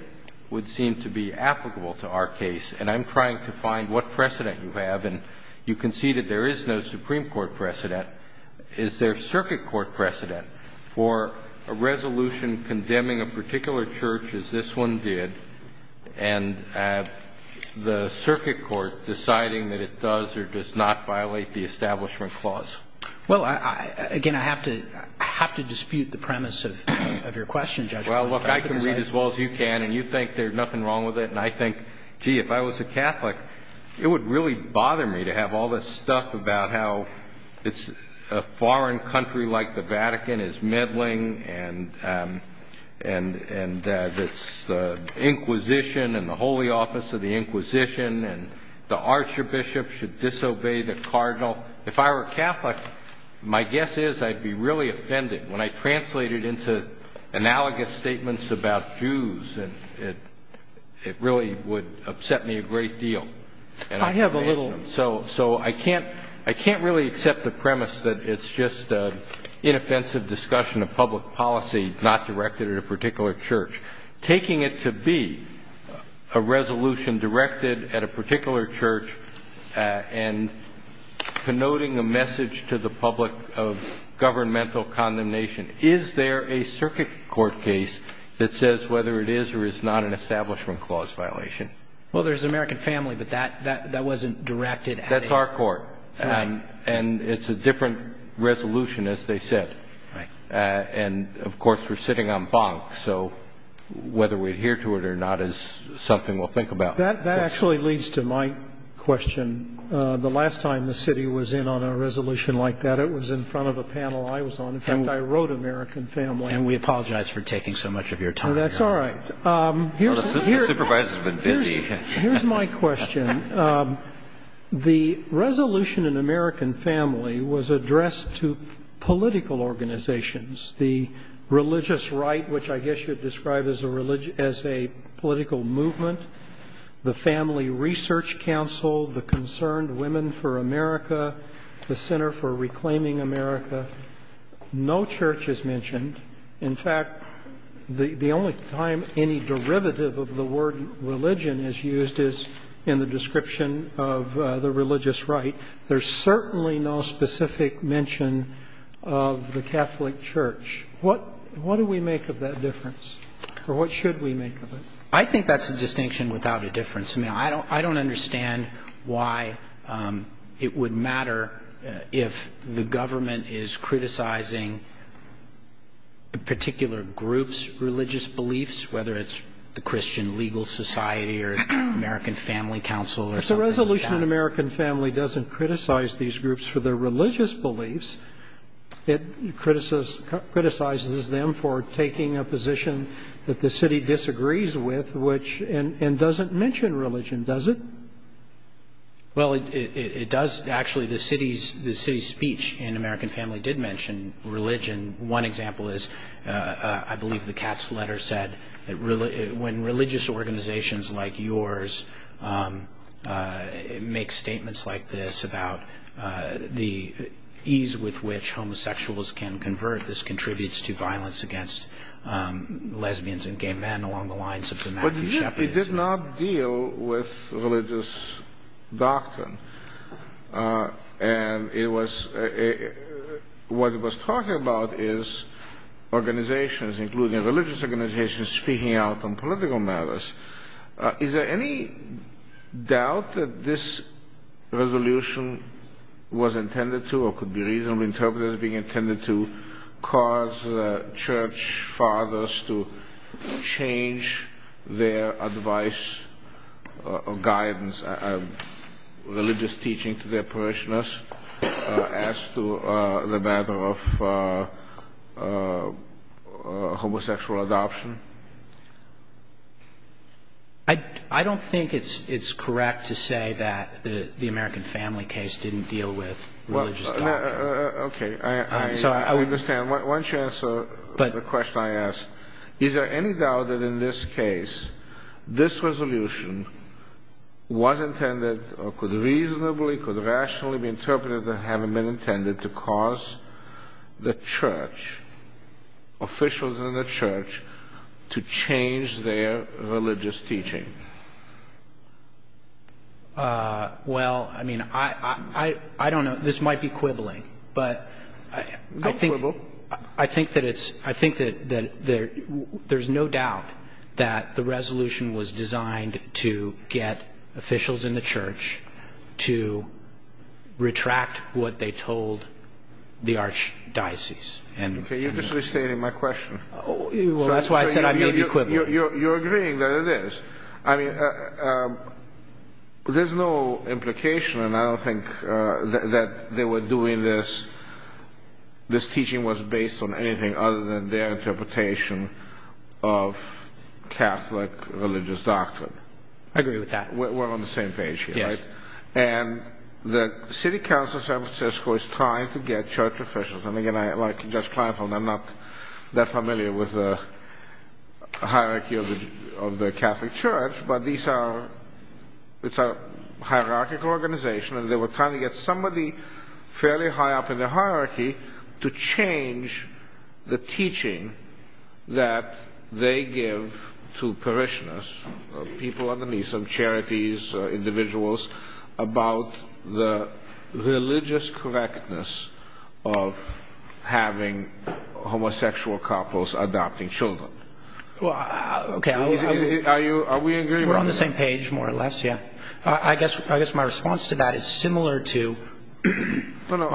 would seem to be applicable to our case, and I'm trying to find what precedent you have. And you can see that there is no Supreme Court precedent. Is there circuit court precedent for a resolution condemning a particular church as this one did and the circuit court deciding that it does or does not violate the Establishment Clause? Well, again, I have to dispute the premise of your question, Judge. Well, look, I can read as well as you can, and you think there's nothing wrong with it, and I think, gee, if I was a Catholic, it would really bother me to have all this stuff about how a foreign country like the Vatican is meddling and it's the Inquisition and the Holy Office of the Inquisition and the archbishop should disobey the cardinal. If I were Catholic, my guess is I'd be really offended when I translate it into analogous statements about Jews, and it really would upset me a great deal. I have a little. So I can't really accept the premise that it's just an inoffensive discussion of public policy not directed at a particular church. Taking it to be a resolution directed at a particular church and connoting a message to the public of governmental condemnation, is there a circuit court case that says whether it is or is not an Establishment Clause violation? Well, there's American Family, but that wasn't directed at it. That's our court. Right. And it's a different resolution, as they said. Right. And, of course, we're sitting on Bonk, so whether we adhere to it or not is something we'll think about. That actually leads to my question. The last time the city was in on a resolution like that, it was in front of a panel I was on. In fact, I wrote American Family. And we apologize for taking so much of your time. That's all right. The supervisor's been busy. Here's my question. The resolution in American Family was addressed to political organizations, the Religious Right, which I guess you'd describe as a political movement, the Family Research Council, the Concerned Women for America, the Center for Reclaiming America. No church is mentioned. In fact, the only time any derivative of the word religion is used is in the description of the Religious Right. There's certainly no specific mention of the Catholic Church. What do we make of that difference? Or what should we make of it? I think that's a distinction without a difference. I mean, I don't understand why it would matter if the government is criticizing particular groups' religious beliefs, whether it's the Christian Legal Society or American Family Council or something like that. But the resolution in American Family doesn't criticize these groups for their religious beliefs. It criticizes them for taking a position that the city disagrees with and doesn't mention religion, does it? Well, it does. Actually, the city's speech in American Family did mention religion. One example is, I believe, the Cat's Letter said, When religious organizations like yours make statements like this about the ease with which homosexuals can convert, this contributes to violence against lesbians and gay men along the lines of dramatic shepherdism. But it did not deal with religious doctrine. And what it was talking about is organizations, including religious organizations, speaking out on political matters. Is there any doubt that this resolution was intended to, or could be reasonably interpreted to cause church fathers to change their advice or guidance, religious teaching to their parishioners as to the matter of homosexual adoption? I don't think it's correct to say that the American Family case didn't deal with religious doctrine. Okay, I understand. Why don't you answer the question I asked. Is there any doubt that in this case, this resolution was intended, or could reasonably, could rationally be interpreted as having been intended to cause the church, officials in the church, to change their religious teaching? Well, I mean, I don't know. This might be quibbling. Don't quibble. I think that there's no doubt that the resolution was designed to get officials in the church to retract what they told the archdiocese. Okay, you're just restating my question. Well, that's why I said I may be quibbling. You're agreeing that it is. I mean, there's no implication, and I don't think that they were doing this, this teaching was based on anything other than their interpretation of Catholic religious doctrine. I agree with that. We're on the same page here, right? Yes. And the city council of San Francisco is trying to get church officials, and again, like Judge Kleinfeld, I'm not that familiar with the hierarchy of the Catholic church, but it's a hierarchical organization, and they were trying to get somebody fairly high up in the hierarchy to change the teaching that they give to parishioners, people underneath them, charities, individuals, about the religious correctness of having homosexual couples adopting children. Well, okay. Are we agreeing on this? We're on the same page, more or less, yeah. I guess my response to that is similar to... I'll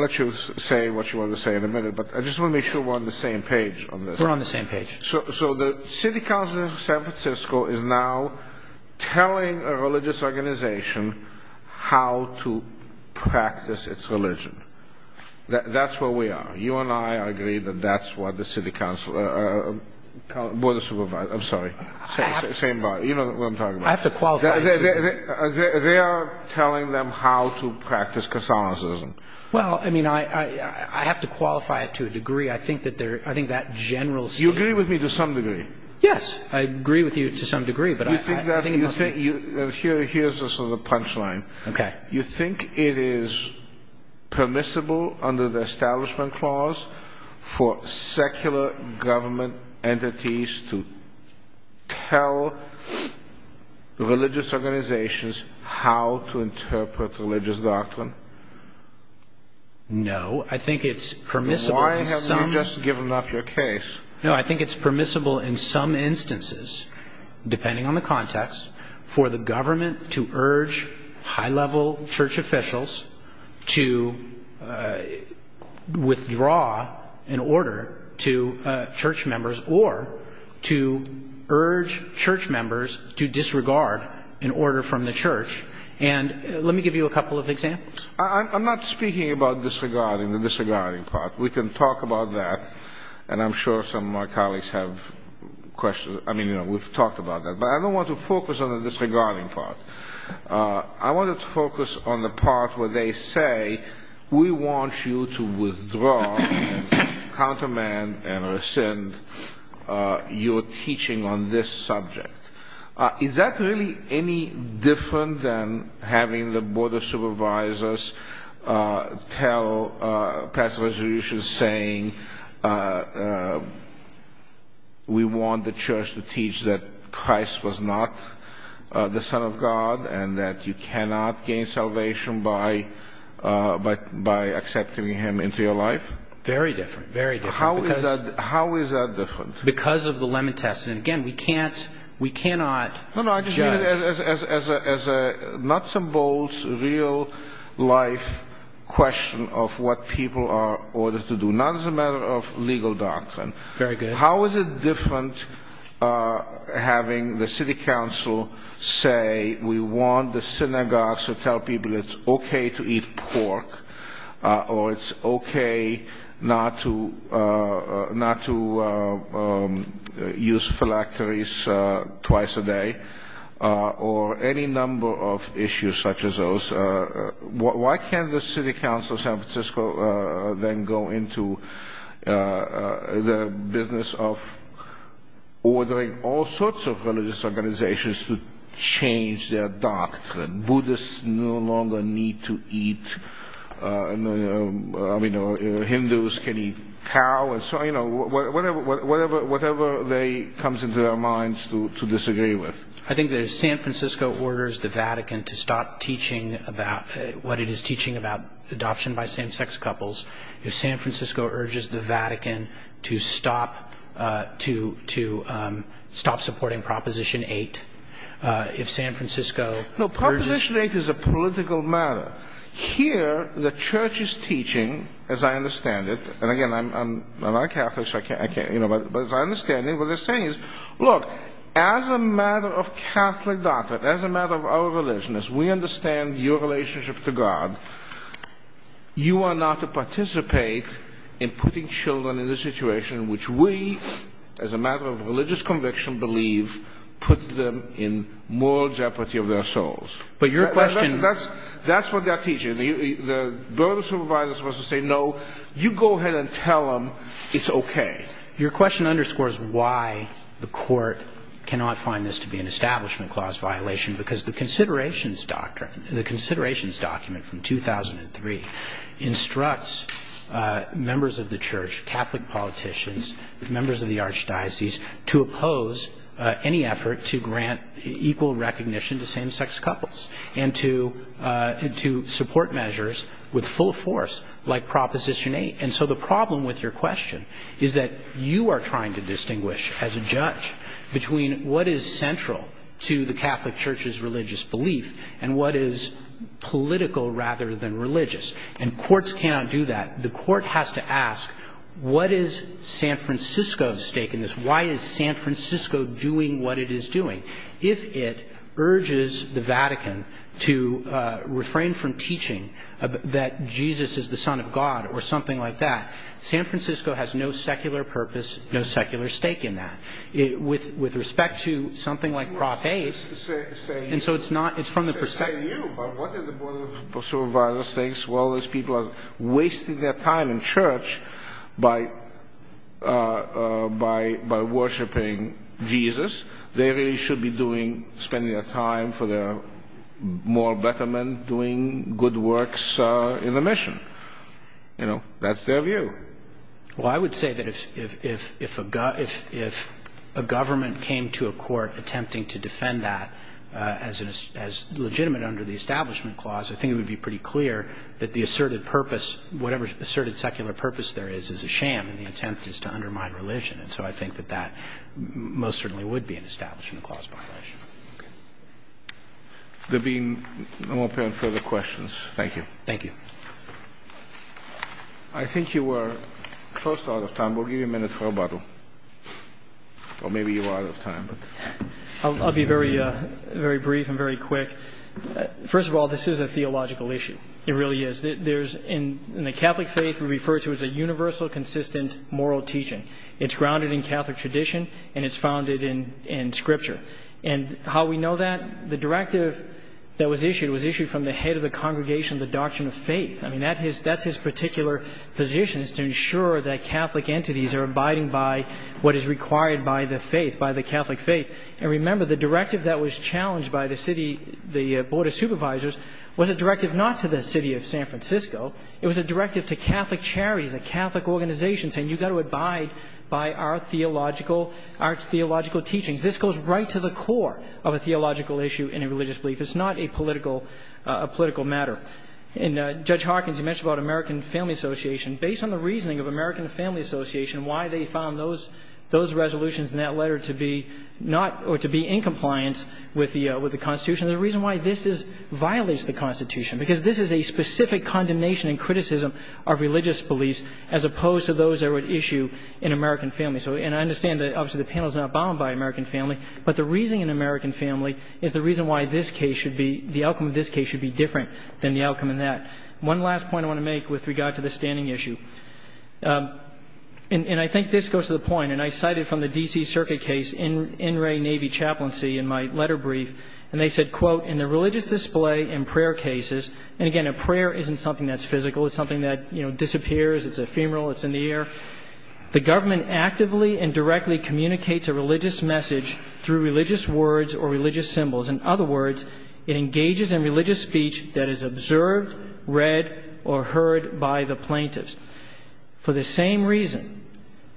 let you say what you want to say in a minute, but I just want to make sure we're on the same page on this. We're on the same page. So the city council of San Francisco is now telling a religious organization how to practice its religion. That's where we are. You and I agree that that's what the city council... Board of Supervisors. I'm sorry. Same body. You know what I'm talking about. I have to qualify. They are telling them how to practice Catholicism. Well, I mean, I have to qualify it to a degree. I think that general... You agree with me to some degree. Yes. I agree with you to some degree, but I think it must be... Here's a sort of punchline. Okay. You think it is permissible under the Establishment Clause for secular government entities to tell religious organizations how to interpret religious doctrine? No. I think it's permissible in some... Why have you just given up your case? No, I think it's permissible in some instances, depending on the context, for the government to urge high-level church officials to withdraw an order to church members or to urge church members to disregard an order from the church. And let me give you a couple of examples. I'm not speaking about disregarding, the disregarding part. We can talk about that, and I'm sure some of my colleagues have questions. I mean, you know, we've talked about that. But I don't want to focus on the disregarding part. I wanted to focus on the part where they say, we want you to withdraw and countermand and rescind your teaching on this subject. Is that really any different than having the Board of Supervisors tell Passover Resolutions, saying we want the church to teach that Christ was not the Son of God and that you cannot gain salvation by accepting him into your life? Very different, very different. How is that different? Because of the lemon test. And, again, we cannot judge. No, no, I just mean it as a nuts and bolts, real-life question of what people are ordered to do, not as a matter of legal doctrine. Very good. How is it different having the city council say, we want the synagogues to tell people it's okay to eat pork, or it's okay not to use phylacteries twice a day, or any number of issues such as those? Why can't the city council of San Francisco then go into the business of ordering all sorts of religious organizations to change their doctrine? Buddhists no longer need to eat. Hindus can eat cow. So, you know, whatever comes into their minds to disagree with. I think that if San Francisco orders the Vatican to stop teaching what it is teaching about adoption by same-sex couples, if San Francisco urges the Vatican to stop supporting Proposition 8, if San Francisco urges... No, Proposition 8 is a political matter. Here, the Church is teaching, as I understand it, and, again, I'm not a Catholic, so I can't, you know, but as I understand it, what they're saying is, look, as a matter of Catholic doctrine, but as a matter of our religion, as we understand your relationship to God, you are not to participate in putting children in a situation which we, as a matter of religious conviction, believe puts them in moral jeopardy of their souls. But your question... That's what they're teaching. The burden of supervisors was to say, no, you go ahead and tell them it's okay. Your question underscores why the Court cannot find this to be an Establishment Clause violation, because the Considerations Document from 2003 instructs members of the Church, Catholic politicians, members of the archdiocese, to oppose any effort to grant equal recognition to same-sex couples and to support measures with full force, like Proposition 8. And so the problem with your question is that you are trying to distinguish, as a judge, between what is central to the Catholic Church's religious belief and what is political rather than religious. And courts cannot do that. The court has to ask, what is San Francisco's stake in this? Why is San Francisco doing what it is doing? If it urges the Vatican to refrain from teaching that Jesus is the Son of God or something like that, San Francisco has no secular purpose, no secular stake in that. With respect to something like Prop 8, and so it's not, it's from the perspective... I'm not saying you, but what did the burden of supervisors think? Well, those people are wasting their time in church by worshipping Jesus. They really should be doing, spending their time for their moral betterment, doing good works in the mission. You know, that's their view. Well, I would say that if a government came to a court attempting to defend that as legitimate under the Establishment Clause, I think it would be pretty clear that the asserted purpose, whatever asserted secular purpose there is, is a sham, and the intent is to undermine religion. And so I think that that most certainly would be an Establishment Clause violation. There being no apparent further questions, thank you. Thank you. I think you are close to out of time. We'll give you a minute for rebuttal. Or maybe you are out of time. I'll be very brief and very quick. First of all, this is a theological issue. It really is. In the Catholic faith, we refer to it as a universal, consistent, moral teaching. It's grounded in Catholic tradition, and it's founded in Scripture. And how we know that? The directive that was issued was issued from the head of the congregation, the Doctrine of Faith. I mean, that's his particular position is to ensure that Catholic entities are abiding by what is required by the faith, by the Catholic faith. And remember, the directive that was challenged by the Board of Supervisors was a directive not to the city of San Francisco. It was a directive to Catholic charities and Catholic organizations saying, you've got to abide by our theological, our theological teachings. This goes right to the core of a theological issue in a religious belief. It's not a political matter. And Judge Hawkins, you mentioned about American Family Association. Based on the reasoning of American Family Association, why they found those resolutions in that letter to be not or to be in compliance with the Constitution, the reason why this violates the Constitution, because this is a specific condemnation and criticism of religious beliefs as opposed to those that were at issue in American Family. And I understand that obviously the panel is not bound by American Family, but the reasoning in American Family is the reason why this case should be, the outcome of this case should be different than the outcome in that. One last point I want to make with regard to the standing issue. And I think this goes to the point, and I cited from the D.C. Circuit case, NRA Navy chaplaincy in my letter brief. And they said, quote, in the religious display and prayer cases, and again, a prayer isn't something that's physical. It's something that disappears. It's ephemeral. It's in the air. The government actively and directly communicates a religious message through religious words or religious symbols. In other words, it engages in religious speech that is observed, read, or heard by the plaintiffs. For the same reason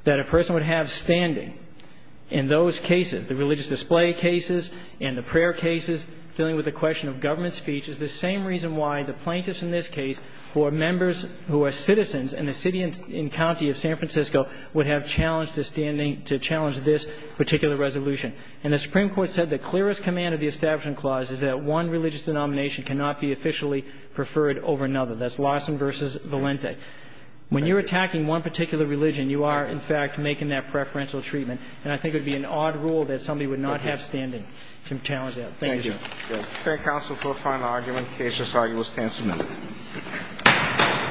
that a person would have standing in those cases, the religious display cases and the prayer cases, dealing with the question of government speech, is the same reason why the plaintiffs in this case, who are members, who are citizens in the city and county of San Francisco, would have challenge to standing, to challenge this particular resolution. And the Supreme Court said the clearest command of the Establishment Clause is that one religious denomination cannot be officially preferred over another. That's Larson v. Valente. When you're attacking one particular religion, you are, in fact, making that preferential treatment. And I think it would be an odd rule that somebody would not have standing to challenge that. Thank you, Your Honor. Thank you. Thank you. Thank you. Thank you. Thank you, counsel, for a final argument. Thank you. Thank you. Thank you. Thank you. Thank you. Thank you. Thank you. Thank you. Thank you.